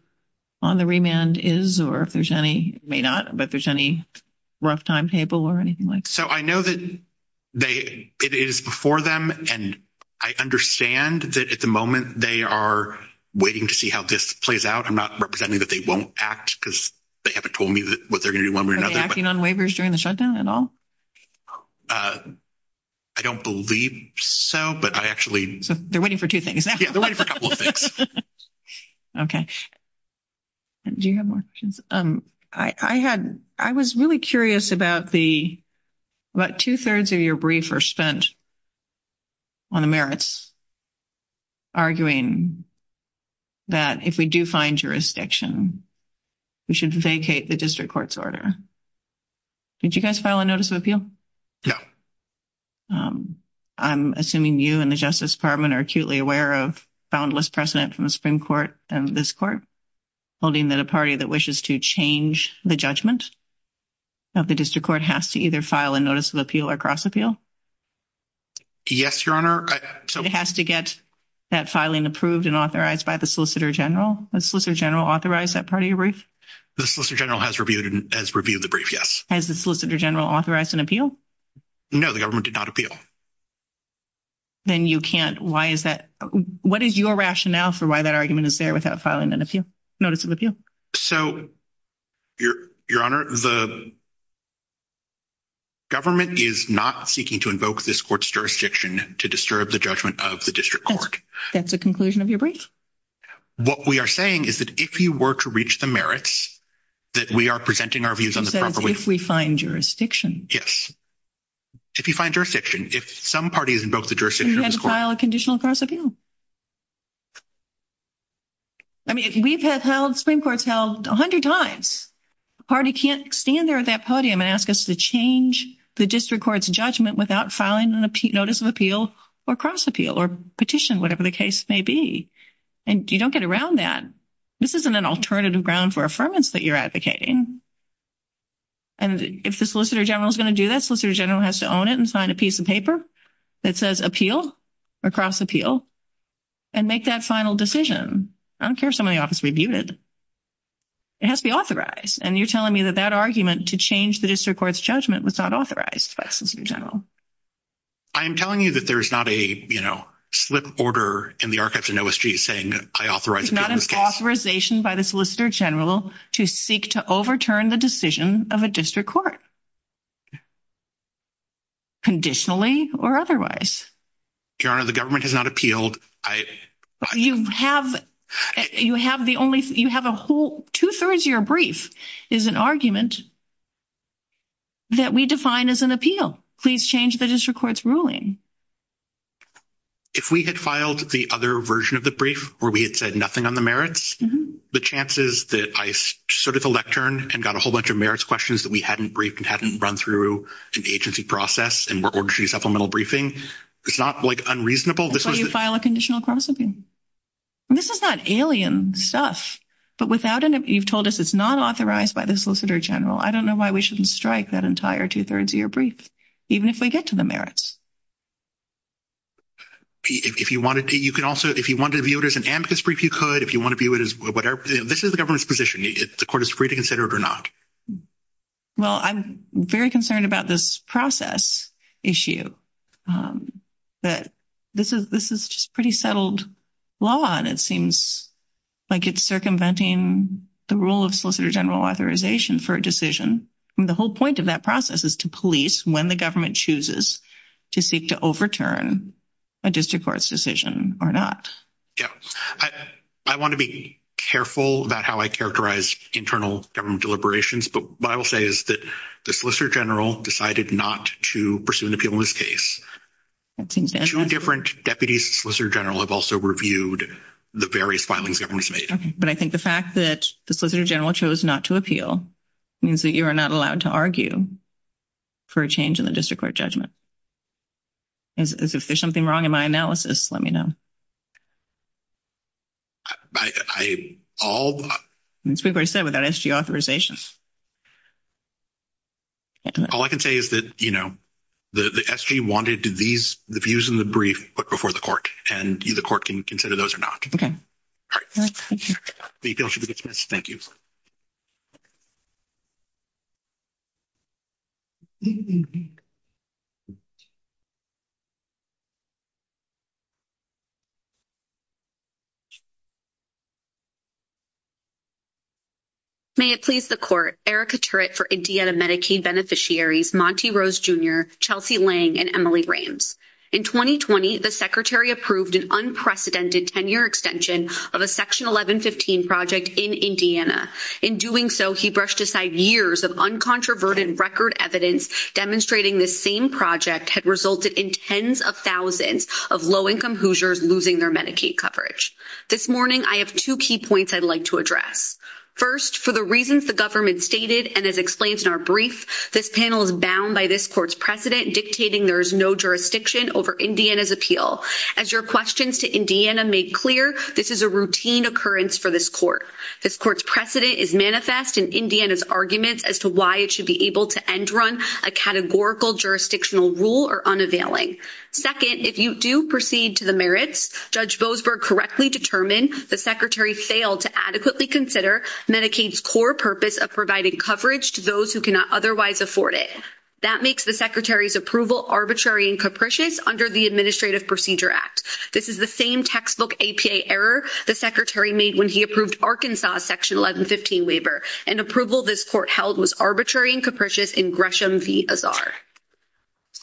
on the remand is, or if there's any—may not, but if there's any rough timetable or anything like that? So I know that it is before them, and I understand that at the moment they are waiting to see how this plays out. I'm not representing that they won't act because they haven't told me what they're going to do one way or another. Are they acting on waivers during the shutdown at all? I don't believe so, but I actually— So they're waiting for two things. Yeah, they're waiting for a couple of things. Okay. Do you have more questions? I had—I was really curious about the—what two-thirds of your briefs are spent on the merits, arguing that if we do find jurisdiction, we should vacate the district court's order. Did you guys file a notice of appeal? No. I'm assuming you and the Justice Department are acutely aware of boundless precedent from the Supreme Court and this court, holding that a party that wishes to change the judgment of the district court has to either file a notice of appeal or cross-appeal? Yes, Your Honor. It has to get that filing approved and authorized by the Solicitor General. Has the Solicitor General authorized that part of your brief? The Solicitor General has reviewed the brief, yes. Has the Solicitor General authorized an appeal? No, the government did not appeal. Then you can't—why is that—what is your rationale for why that argument is there without filing notice of appeal? So, Your Honor, the government is not seeking to invoke this court's jurisdiction to disturb the judgment of the district court. That's the conclusion of your brief? What we are saying is that if you were to reach the merits, that we are presenting our views in the proper way— So, if we find jurisdiction. Yes. If you find jurisdiction. If some party has invoked the jurisdiction of this court— You have to file a conditional cross-appeal. I mean, we've had Supreme Courts held a hundred times. A party can't stand there at that podium and ask us to change the district court's judgment without filing notice of appeal or cross-appeal or petition, whatever the case may be. And you don't get around that. This isn't an alternative ground for affirmance that you're advocating. And if the Solicitor General is going to do that, the Solicitor General has to own it and sign a piece of paper that says appeal or cross-appeal and make that final decision. I don't care if somebody in the office reviewed it. It has to be authorized. And you're telling me that that argument to change the district court's judgment was not authorized by the Solicitor General. I am telling you that there is not a, you know, slip order in the Archives and OST saying, I authorize— It is not an authorization by the Solicitor General to seek to overturn the decision of a district court, conditionally or otherwise. Your Honor, the government has not appealed. You have the only—you have a whole—two-thirds of your brief is an argument that we define as an appeal. Please change the district court's ruling. If we had filed the other version of the brief where we had said nothing on the merits, the chances that I started the lectern and got a whole bunch of merits questions that we hadn't briefed and hadn't run through in the agency process and were going to do supplemental briefing, it's not, like, unreasonable. That's why you file a conditional cross-appeal. And this is that alien stuff. But without an—you've told us it's not authorized by the Solicitor General. I don't know why we shouldn't strike that entire two-thirds of your brief, even if we get to the merits. If you wanted to, you can also—if you wanted to view it as an amicus brief, you could. If you want to view it as whatever—this is the government's position. The court is free to consider it or not. Well, I'm very concerned about this process issue. But this is pretty settled law, and it seems like it's circumventing the rule of Solicitor General authorization for a decision. And the whole point of that process is to police when the government chooses to seek to overturn a district court's decision or not. Yeah. I want to be careful about how I characterize internal government deliberations. But what I will say is that the Solicitor General decided not to pursue an appeal in this case. Two different deputies to the Solicitor General have also reviewed the various filings the government has made. But I think the fact that the Solicitor General chose not to appeal means that you are not allowed to argue for a change in the district court judgment. If there's something wrong in my analysis, let me know. I—all— As Gregory said, we've got S.G. authorizations. All I can say is that, you know, the S.G. wanted these—the views in the brief before the court, and the court can consider those or not. Okay. All right. Thank you. The appeal should be dismissed. Thank you. May it please the court. Erica Turrett for Indiana Medicaid Beneficiaries, Monty Rose Jr., Chelsea Lang, and Emily Rames. In 2020, the Secretary approved an unprecedented 10-year extension of a Section 1115 project in Indiana. In doing so, he brushed aside years of uncontroverted record evidence demonstrating this same project had resulted in tens of thousands of low-income Hoosiers losing their Medicaid. This morning, I have two key points I'd like to address. First, for the reasons the government stated and as explained in our brief, this panel is bound by this court's precedent dictating there is no jurisdiction over Indiana's appeal. As your questions to Indiana make clear, this is a routine occurrence for this court. This court's precedent is manifest in Indiana's arguments as to why it should be able to end-run a categorical jurisdictional rule or unavailing. Second, if you do proceed to the merits, Judge Boasberg correctly determined the Secretary failed to adequately consider Medicaid's core purpose of providing coverage to those who cannot otherwise afford it. That makes the Secretary's approval arbitrary and capricious under the Administrative Procedure Act. This is the same textbook APA error the Secretary made when he approved Arkansas' Section 1115 waiver. And approval this court held was arbitrary and capricious in Gresham v. Azar.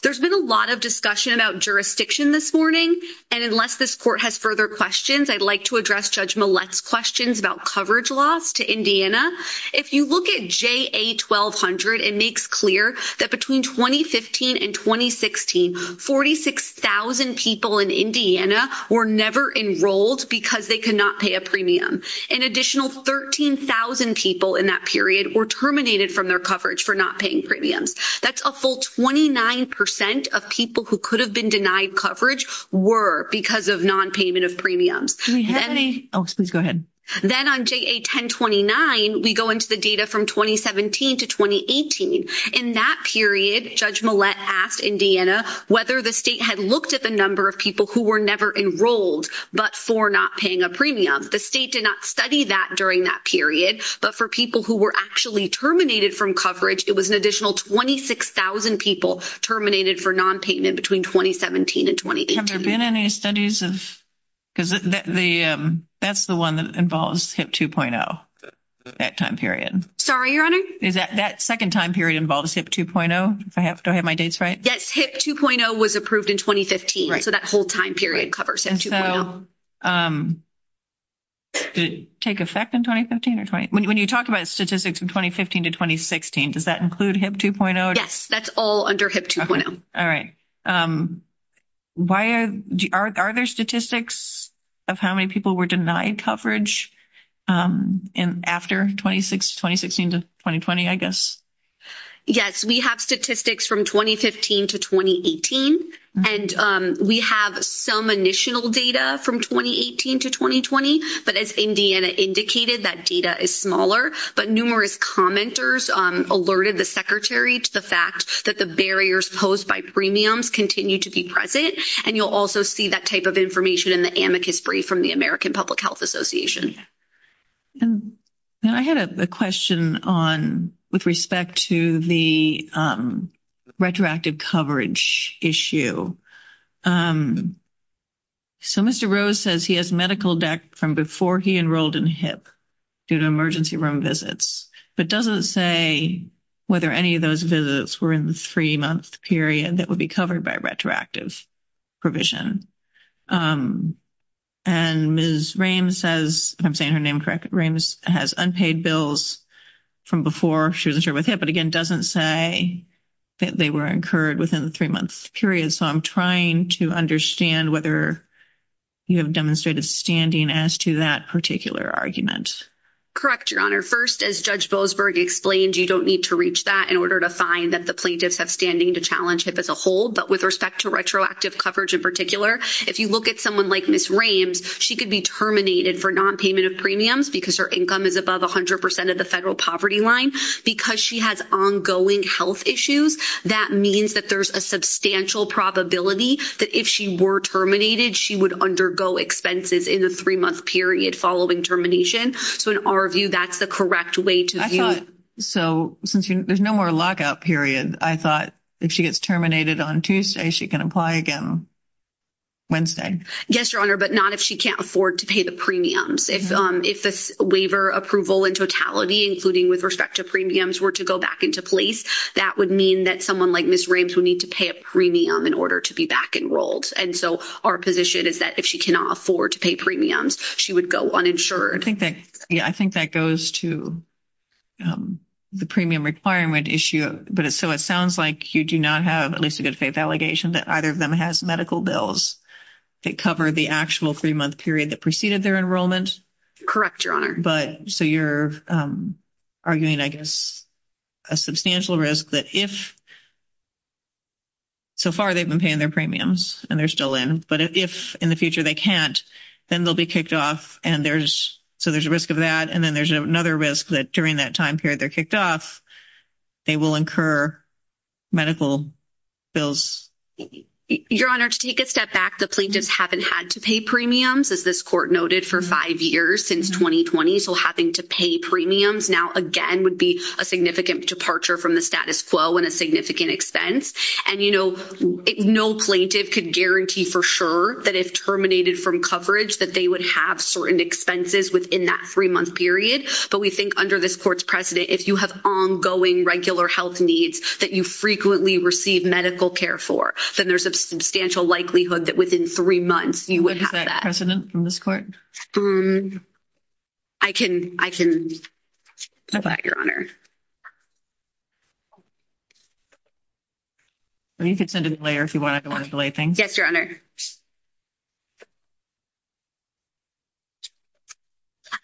There's been a lot of discussion about jurisdiction this morning. And unless this court has further questions, I'd like to address Judge Millett's questions about coverage loss to Indiana. If you look at JA-1200, it makes clear that between 2015 and 2016, 46,000 people in Indiana were never enrolled because they could not pay a premium. An additional 13,000 people in that period were terminated from their coverage for not paying premiums. That's a full 29% of people who could have been denied coverage were because of nonpayment of premiums. Then on JA-1029, we go into the data from 2017 to 2018. In that period, Judge Millett asked Indiana whether the state had looked at the number of people who were never enrolled but for not paying a premium. The state did not study that during that period. But for people who were actually terminated from coverage, it was an additional 26,000 people terminated for nonpayment between 2017 and 2018. Have there been any studies of – because that's the one that involves HIP 2.0, that time period. Sorry, Your Honor? That second time period involves HIP 2.0? Do I have my dates right? Yes, HIP 2.0 was approved in 2015. So that whole time period covers HIP 2.0. Okay, so did it take effect in 2015? When you talk about statistics from 2015 to 2016, does that include HIP 2.0? Yes, that's all under HIP 2.0. All right. Are there statistics of how many people were denied coverage after 2016 to 2020, I guess? Yes, we have statistics from 2015 to 2018. And we have some initial data from 2018 to 2020. But as Indiana indicated, that data is smaller. But numerous commenters alerted the Secretary to the fact that the barriers posed by premiums continue to be present. And you'll also see that type of information in the amicus brief from the American Public Health Association. I had a question with respect to the retroactive coverage issue. So Mr. Rose says he has medical debt from before he enrolled in HIP due to emergency room visits, but doesn't say whether any of those visits were in the three-month period that would be covered by retroactive provision. And Ms. Rames says, if I'm saying her name correct, Rames has unpaid bills from before she was enrolled with HIP, but again doesn't say that they were incurred within the three-month period. So I'm trying to understand whether you have demonstrated standing as to that particular argument. Correct, Your Honor. First, as Judge Boasberg explained, you don't need to reach that in order to find that the plaintiffs have standing to challenge HIP as a whole. But with respect to retroactive coverage in particular, if you look at someone like Ms. Rames, she could be terminated for nonpayment of premiums because her income is above 100 percent of the federal poverty line. Because she has ongoing health issues, that means that there's a substantial probability that if she were terminated, she would undergo expenses in the three-month period following termination. So in our view, that's the correct way to view it. So since there's no more lockout period, I thought if she gets terminated on Tuesday, she can apply again Wednesday. Yes, Your Honor, but not if she can't afford to pay the premiums. If the waiver approval in totality, including with respect to premiums, were to go back into place, that would mean that someone like Ms. Rames would need to pay a premium in order to be back enrolled. And so our position is that if she cannot afford to pay premiums, she would go uninsured. I think that goes to the premium requirement issue. So it sounds like you do not have at least a good faith allegation that either of them has medical bills that cover the actual three-month period that preceded their enrollment. Correct, Your Honor. So you're arguing, I guess, a substantial risk that if so far they've been paying their premiums and they're still in, but if in the future they can't, then they'll be kicked off. So there's a risk of that. And then there's another risk that during that time period they're kicked off, they will incur medical bills. Your Honor, to take a step back, the plaintiffs haven't had to pay premiums, as this court noted, for five years, since 2020. So having to pay premiums now, again, would be a significant departure from the status quo and a significant expense. And, you know, no plaintiff could guarantee for sure that if terminated from coverage, that they would have certain expenses within that three-month period. But we think under this court's precedent, if you have ongoing regular health needs that you frequently receive medical care for, then there's a substantial likelihood that within three months you would have that. Is that precedent in this court? I can provide, Your Honor. You can send it in later if you wanted to relay things. Yes, Your Honor.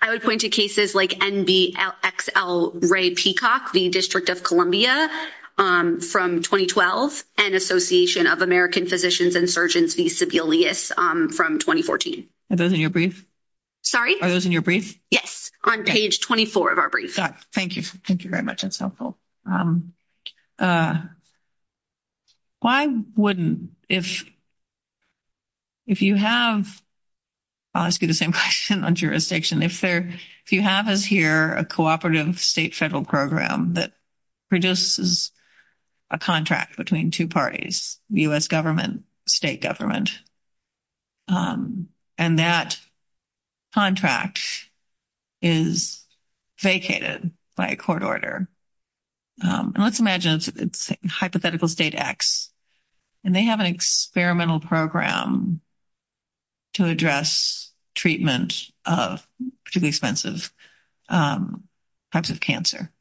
I would point to cases like NDXL Ray Peacock, the District of Columbia, from 2012, and Association of American Physicians and Surgeons v. Sebelius from 2014. Are those in your brief? Sorry? Are those in your brief? Yes, on page 24 of our brief. Thank you. Thank you very much. That's helpful. Why wouldn't, if you have, I'll ask you the same question on jurisdiction, if you have here a cooperative state federal program that produces a contract between two parties, U.S. government, state government, and that contract is vacated by a court order, and let's imagine it's hypothetical state X, and they have an experimental program to address treatment of particularly expensive types of cancer.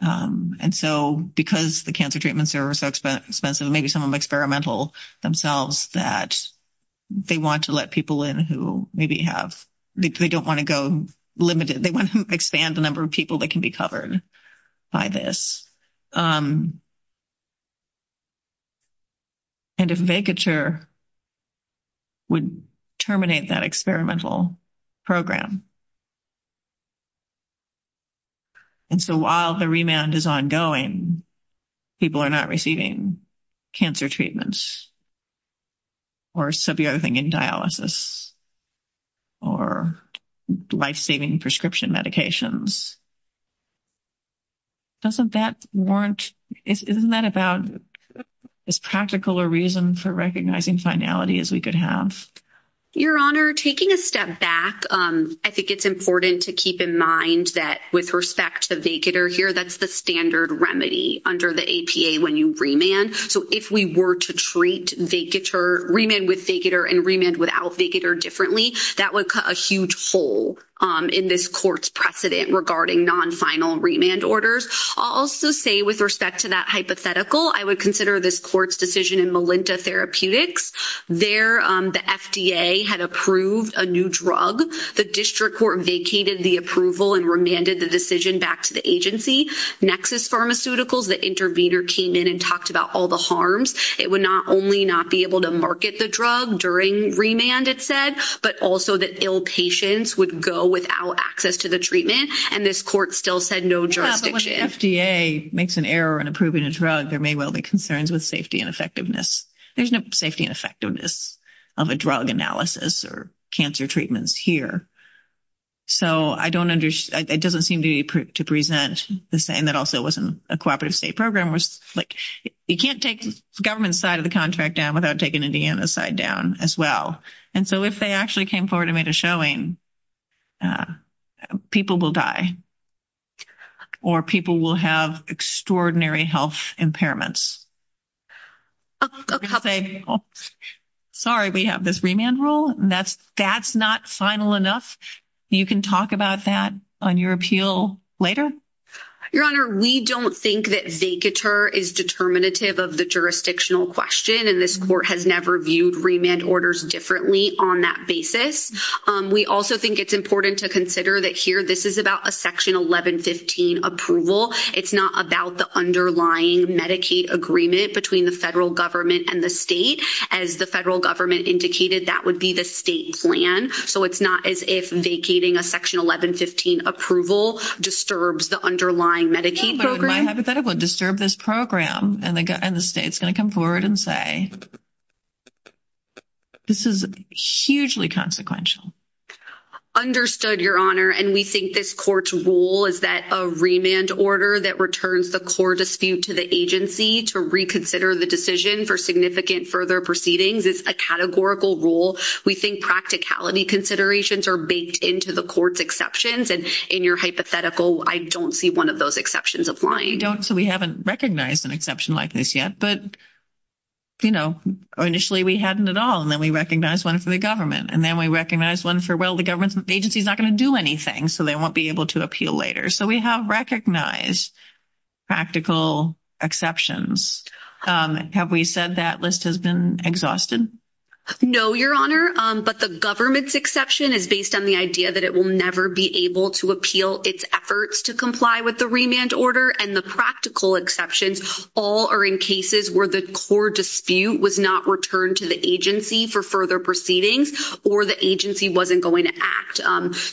And so because the cancer treatments are so expensive, maybe some of them are experimental themselves that they want to let people in who maybe have, they don't want to go limited, they want to expand the number of people that can be covered by this. And a vacature would terminate that experimental program. And so while the remand is ongoing, people are not receiving cancer treatments, or suburethane dialysis, or life-saving prescription medications. Doesn't that warrant, isn't that about as practical a reason for recognizing finality as we could have? Your Honor, taking a step back, I think it's important to keep in mind that with respect to vacature here, that's the standard remedy under the APA when you remand. So if we were to treat vacature, remand with vacature and remand without vacature differently, that would cut a huge hole in this court's precedent regarding non-final remand orders. I'll also say with respect to that hypothetical, I would consider this court's decision in Melinda Therapeutics. There, the FDA had approved a new drug. The district court vacated the approval and remanded the decision back to the agency. Nexus Pharmaceuticals, the intervener, came in and talked about all the harms. It would not only not be able to market the drug during remand, it said, but also that ill patients would go without access to the treatment. And this court still said no jurisdiction. Yeah, but when the FDA makes an error in approving a drug, there may well be concerns with safety and effectiveness. There's no safety and effectiveness of a drug analysis or cancer treatments here. So I don't understand, it doesn't seem to present the same. That also wasn't a cooperative state program. You can't take the government side of the contract down without taking Indiana's side down as well. And so if they actually came forward and made a showing, people will die. Or people will have extraordinary health impairments. Sorry, we have this remand rule. That's not final enough. You can talk about that on your appeal later. Your Honor, we don't think that vacatur is determinative of the jurisdictional question, and this court has never viewed remand orders differently on that basis. We also think it's important to consider that here this is about a Section 1115 approval. It's not about the underlying Medicaid agreement between the federal government and the state. As the federal government indicated, that would be the state plan. So it's not as if vacating a Section 1115 approval disturbs the underlying Medicaid program. I hypothetically disturb this program, and the state's going to come forward and say, this is hugely consequential. Understood, Your Honor. And we think this court's rule is that a remand order that returns the core dispute to the agency to reconsider the decision for significant further proceedings is a categorical rule. We think practicality considerations are baked into the court's exceptions, and in your hypothetical, I don't see one of those exceptions applying. You don't, so we haven't recognized an exception like this yet. But, you know, initially we hadn't at all, and then we recognized one for the government, and then we recognized one for, well, the government agency's not going to do anything, so they won't be able to appeal later. So we have recognized practical exceptions. Have we said that list has been exhausted? No, Your Honor, but the government's exception is based on the idea that it will never be able to appeal its efforts to comply with the remand order, and the practical exceptions all are in cases where the core dispute was not returned to the agency for further proceedings or the agency wasn't going to act.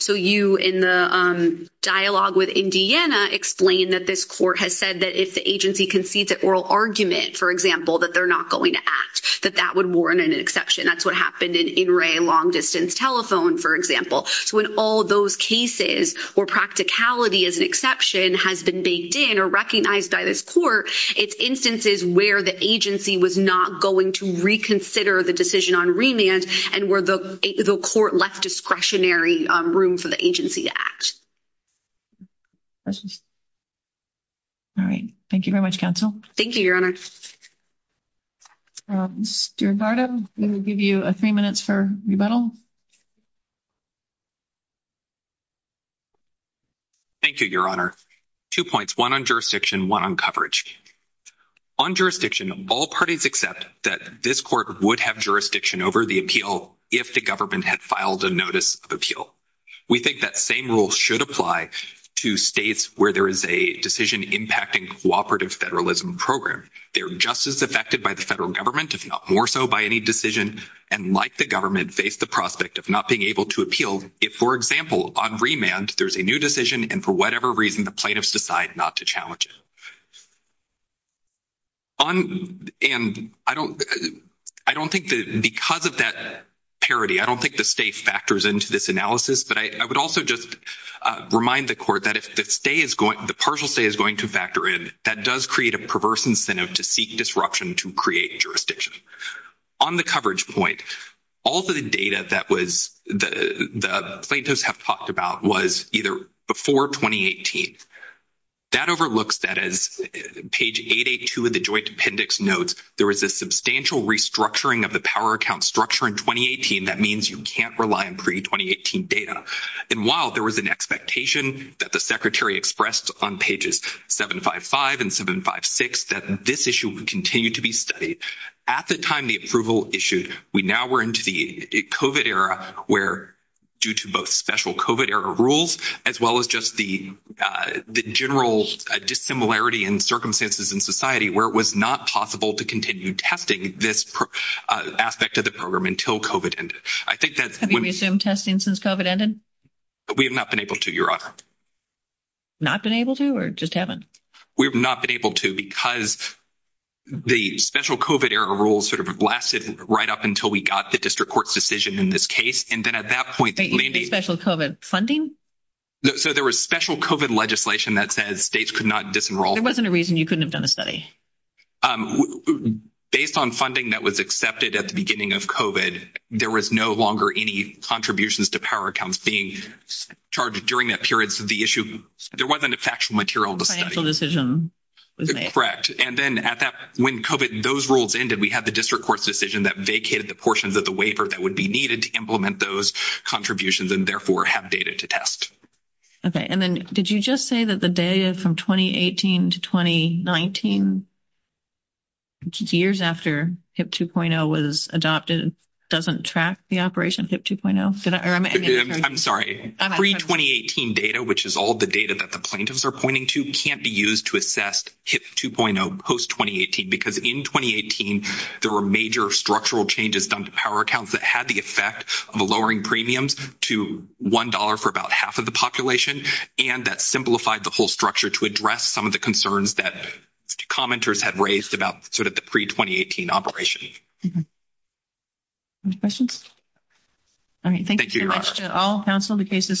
So you, in the dialogue with Indiana, explained that this court has said that if the agency concedes an oral argument, for example, that they're not going to act, that that would warrant an exception. That's what happened in In Re, long-distance telephone, for example. So in all those cases where practicality as an exception has been baked in or recognized by this court, it's instances where the agency was not going to reconsider the decision on remand and where the court left discretionary room for the agency to act. Questions? All right. Thank you very much, counsel. Thank you, Your Honor. Steward Gardo, we will give you three minutes for rebuttal. Thank you, Your Honor. Two points, one on jurisdiction, one on coverage. On jurisdiction, all parties accept that this court would have jurisdiction over the appeal if the government had filed a notice of appeal. We think that same rule should apply to states where there is a decision-impacting cooperative federalism program. They're just as affected by the federal government, if not more so, by any decision, and like the government, face the prospect of not being able to appeal if, for example, on remand, there's a new decision and for whatever reason the plaintiffs decide not to challenge it. And I don't think that because of that parity, I don't think the state factors into this analysis, but I would also just remind the court that if the partial stay is going to factor in, that does create a perverse incentive to seek disruption to create jurisdiction. On the coverage point, all of the data that the plaintiffs have talked about was either before 2018. That overlooks that as page 882 of the joint appendix notes, there was a substantial restructuring of the power account structure in 2018. That means you can't rely on pre-2018 data. And while there was an expectation that the secretary expressed on pages 755 and 756 that this issue would continue to be studied, at the time the approval issued, we now were into the COVID era where due to both special COVID era rules as well as just the general dissimilarity in circumstances in society where it was not possible to continue testing this aspect of the program until COVID ended. Have you resumed testing since COVID ended? We have not been able to, Your Honor. Not been able to or just haven't? We have not been able to because the special COVID era rules sort of blasted right up until we got the district court's decision in this case. And then at that point, maybe. Special COVID funding? So there was special COVID legislation that says states could not disenroll. There wasn't a reason you couldn't have done a study? Based on funding that was accepted at the beginning of COVID, there was no longer any contributions to power accounts being charged during that period. So the issue, there wasn't a factual material to study. A financial decision was made. Correct. And then at that, when COVID, those rules ended, we had the district court's decision that vacated the portions of the waiver that would be needed to implement those contributions and therefore have data to test. Okay. And then did you just say that the data from 2018 to 2019, years after HIP 2.0 was adopted, doesn't track the operation of HIP 2.0? I'm sorry. Pre-2018 data, which is all the data that the plaintiffs are pointing to, can't be used to assess HIP 2.0 post-2018 because in 2018, there were major structural changes done to power accounts that had the effect of lowering premiums to $1 for about half of the population, and that simplified the whole structure to address some of the concerns that commenters had raised about sort of the pre-2018 operation. Any questions? I mean, thank you so much to all counsel. The case is submitted.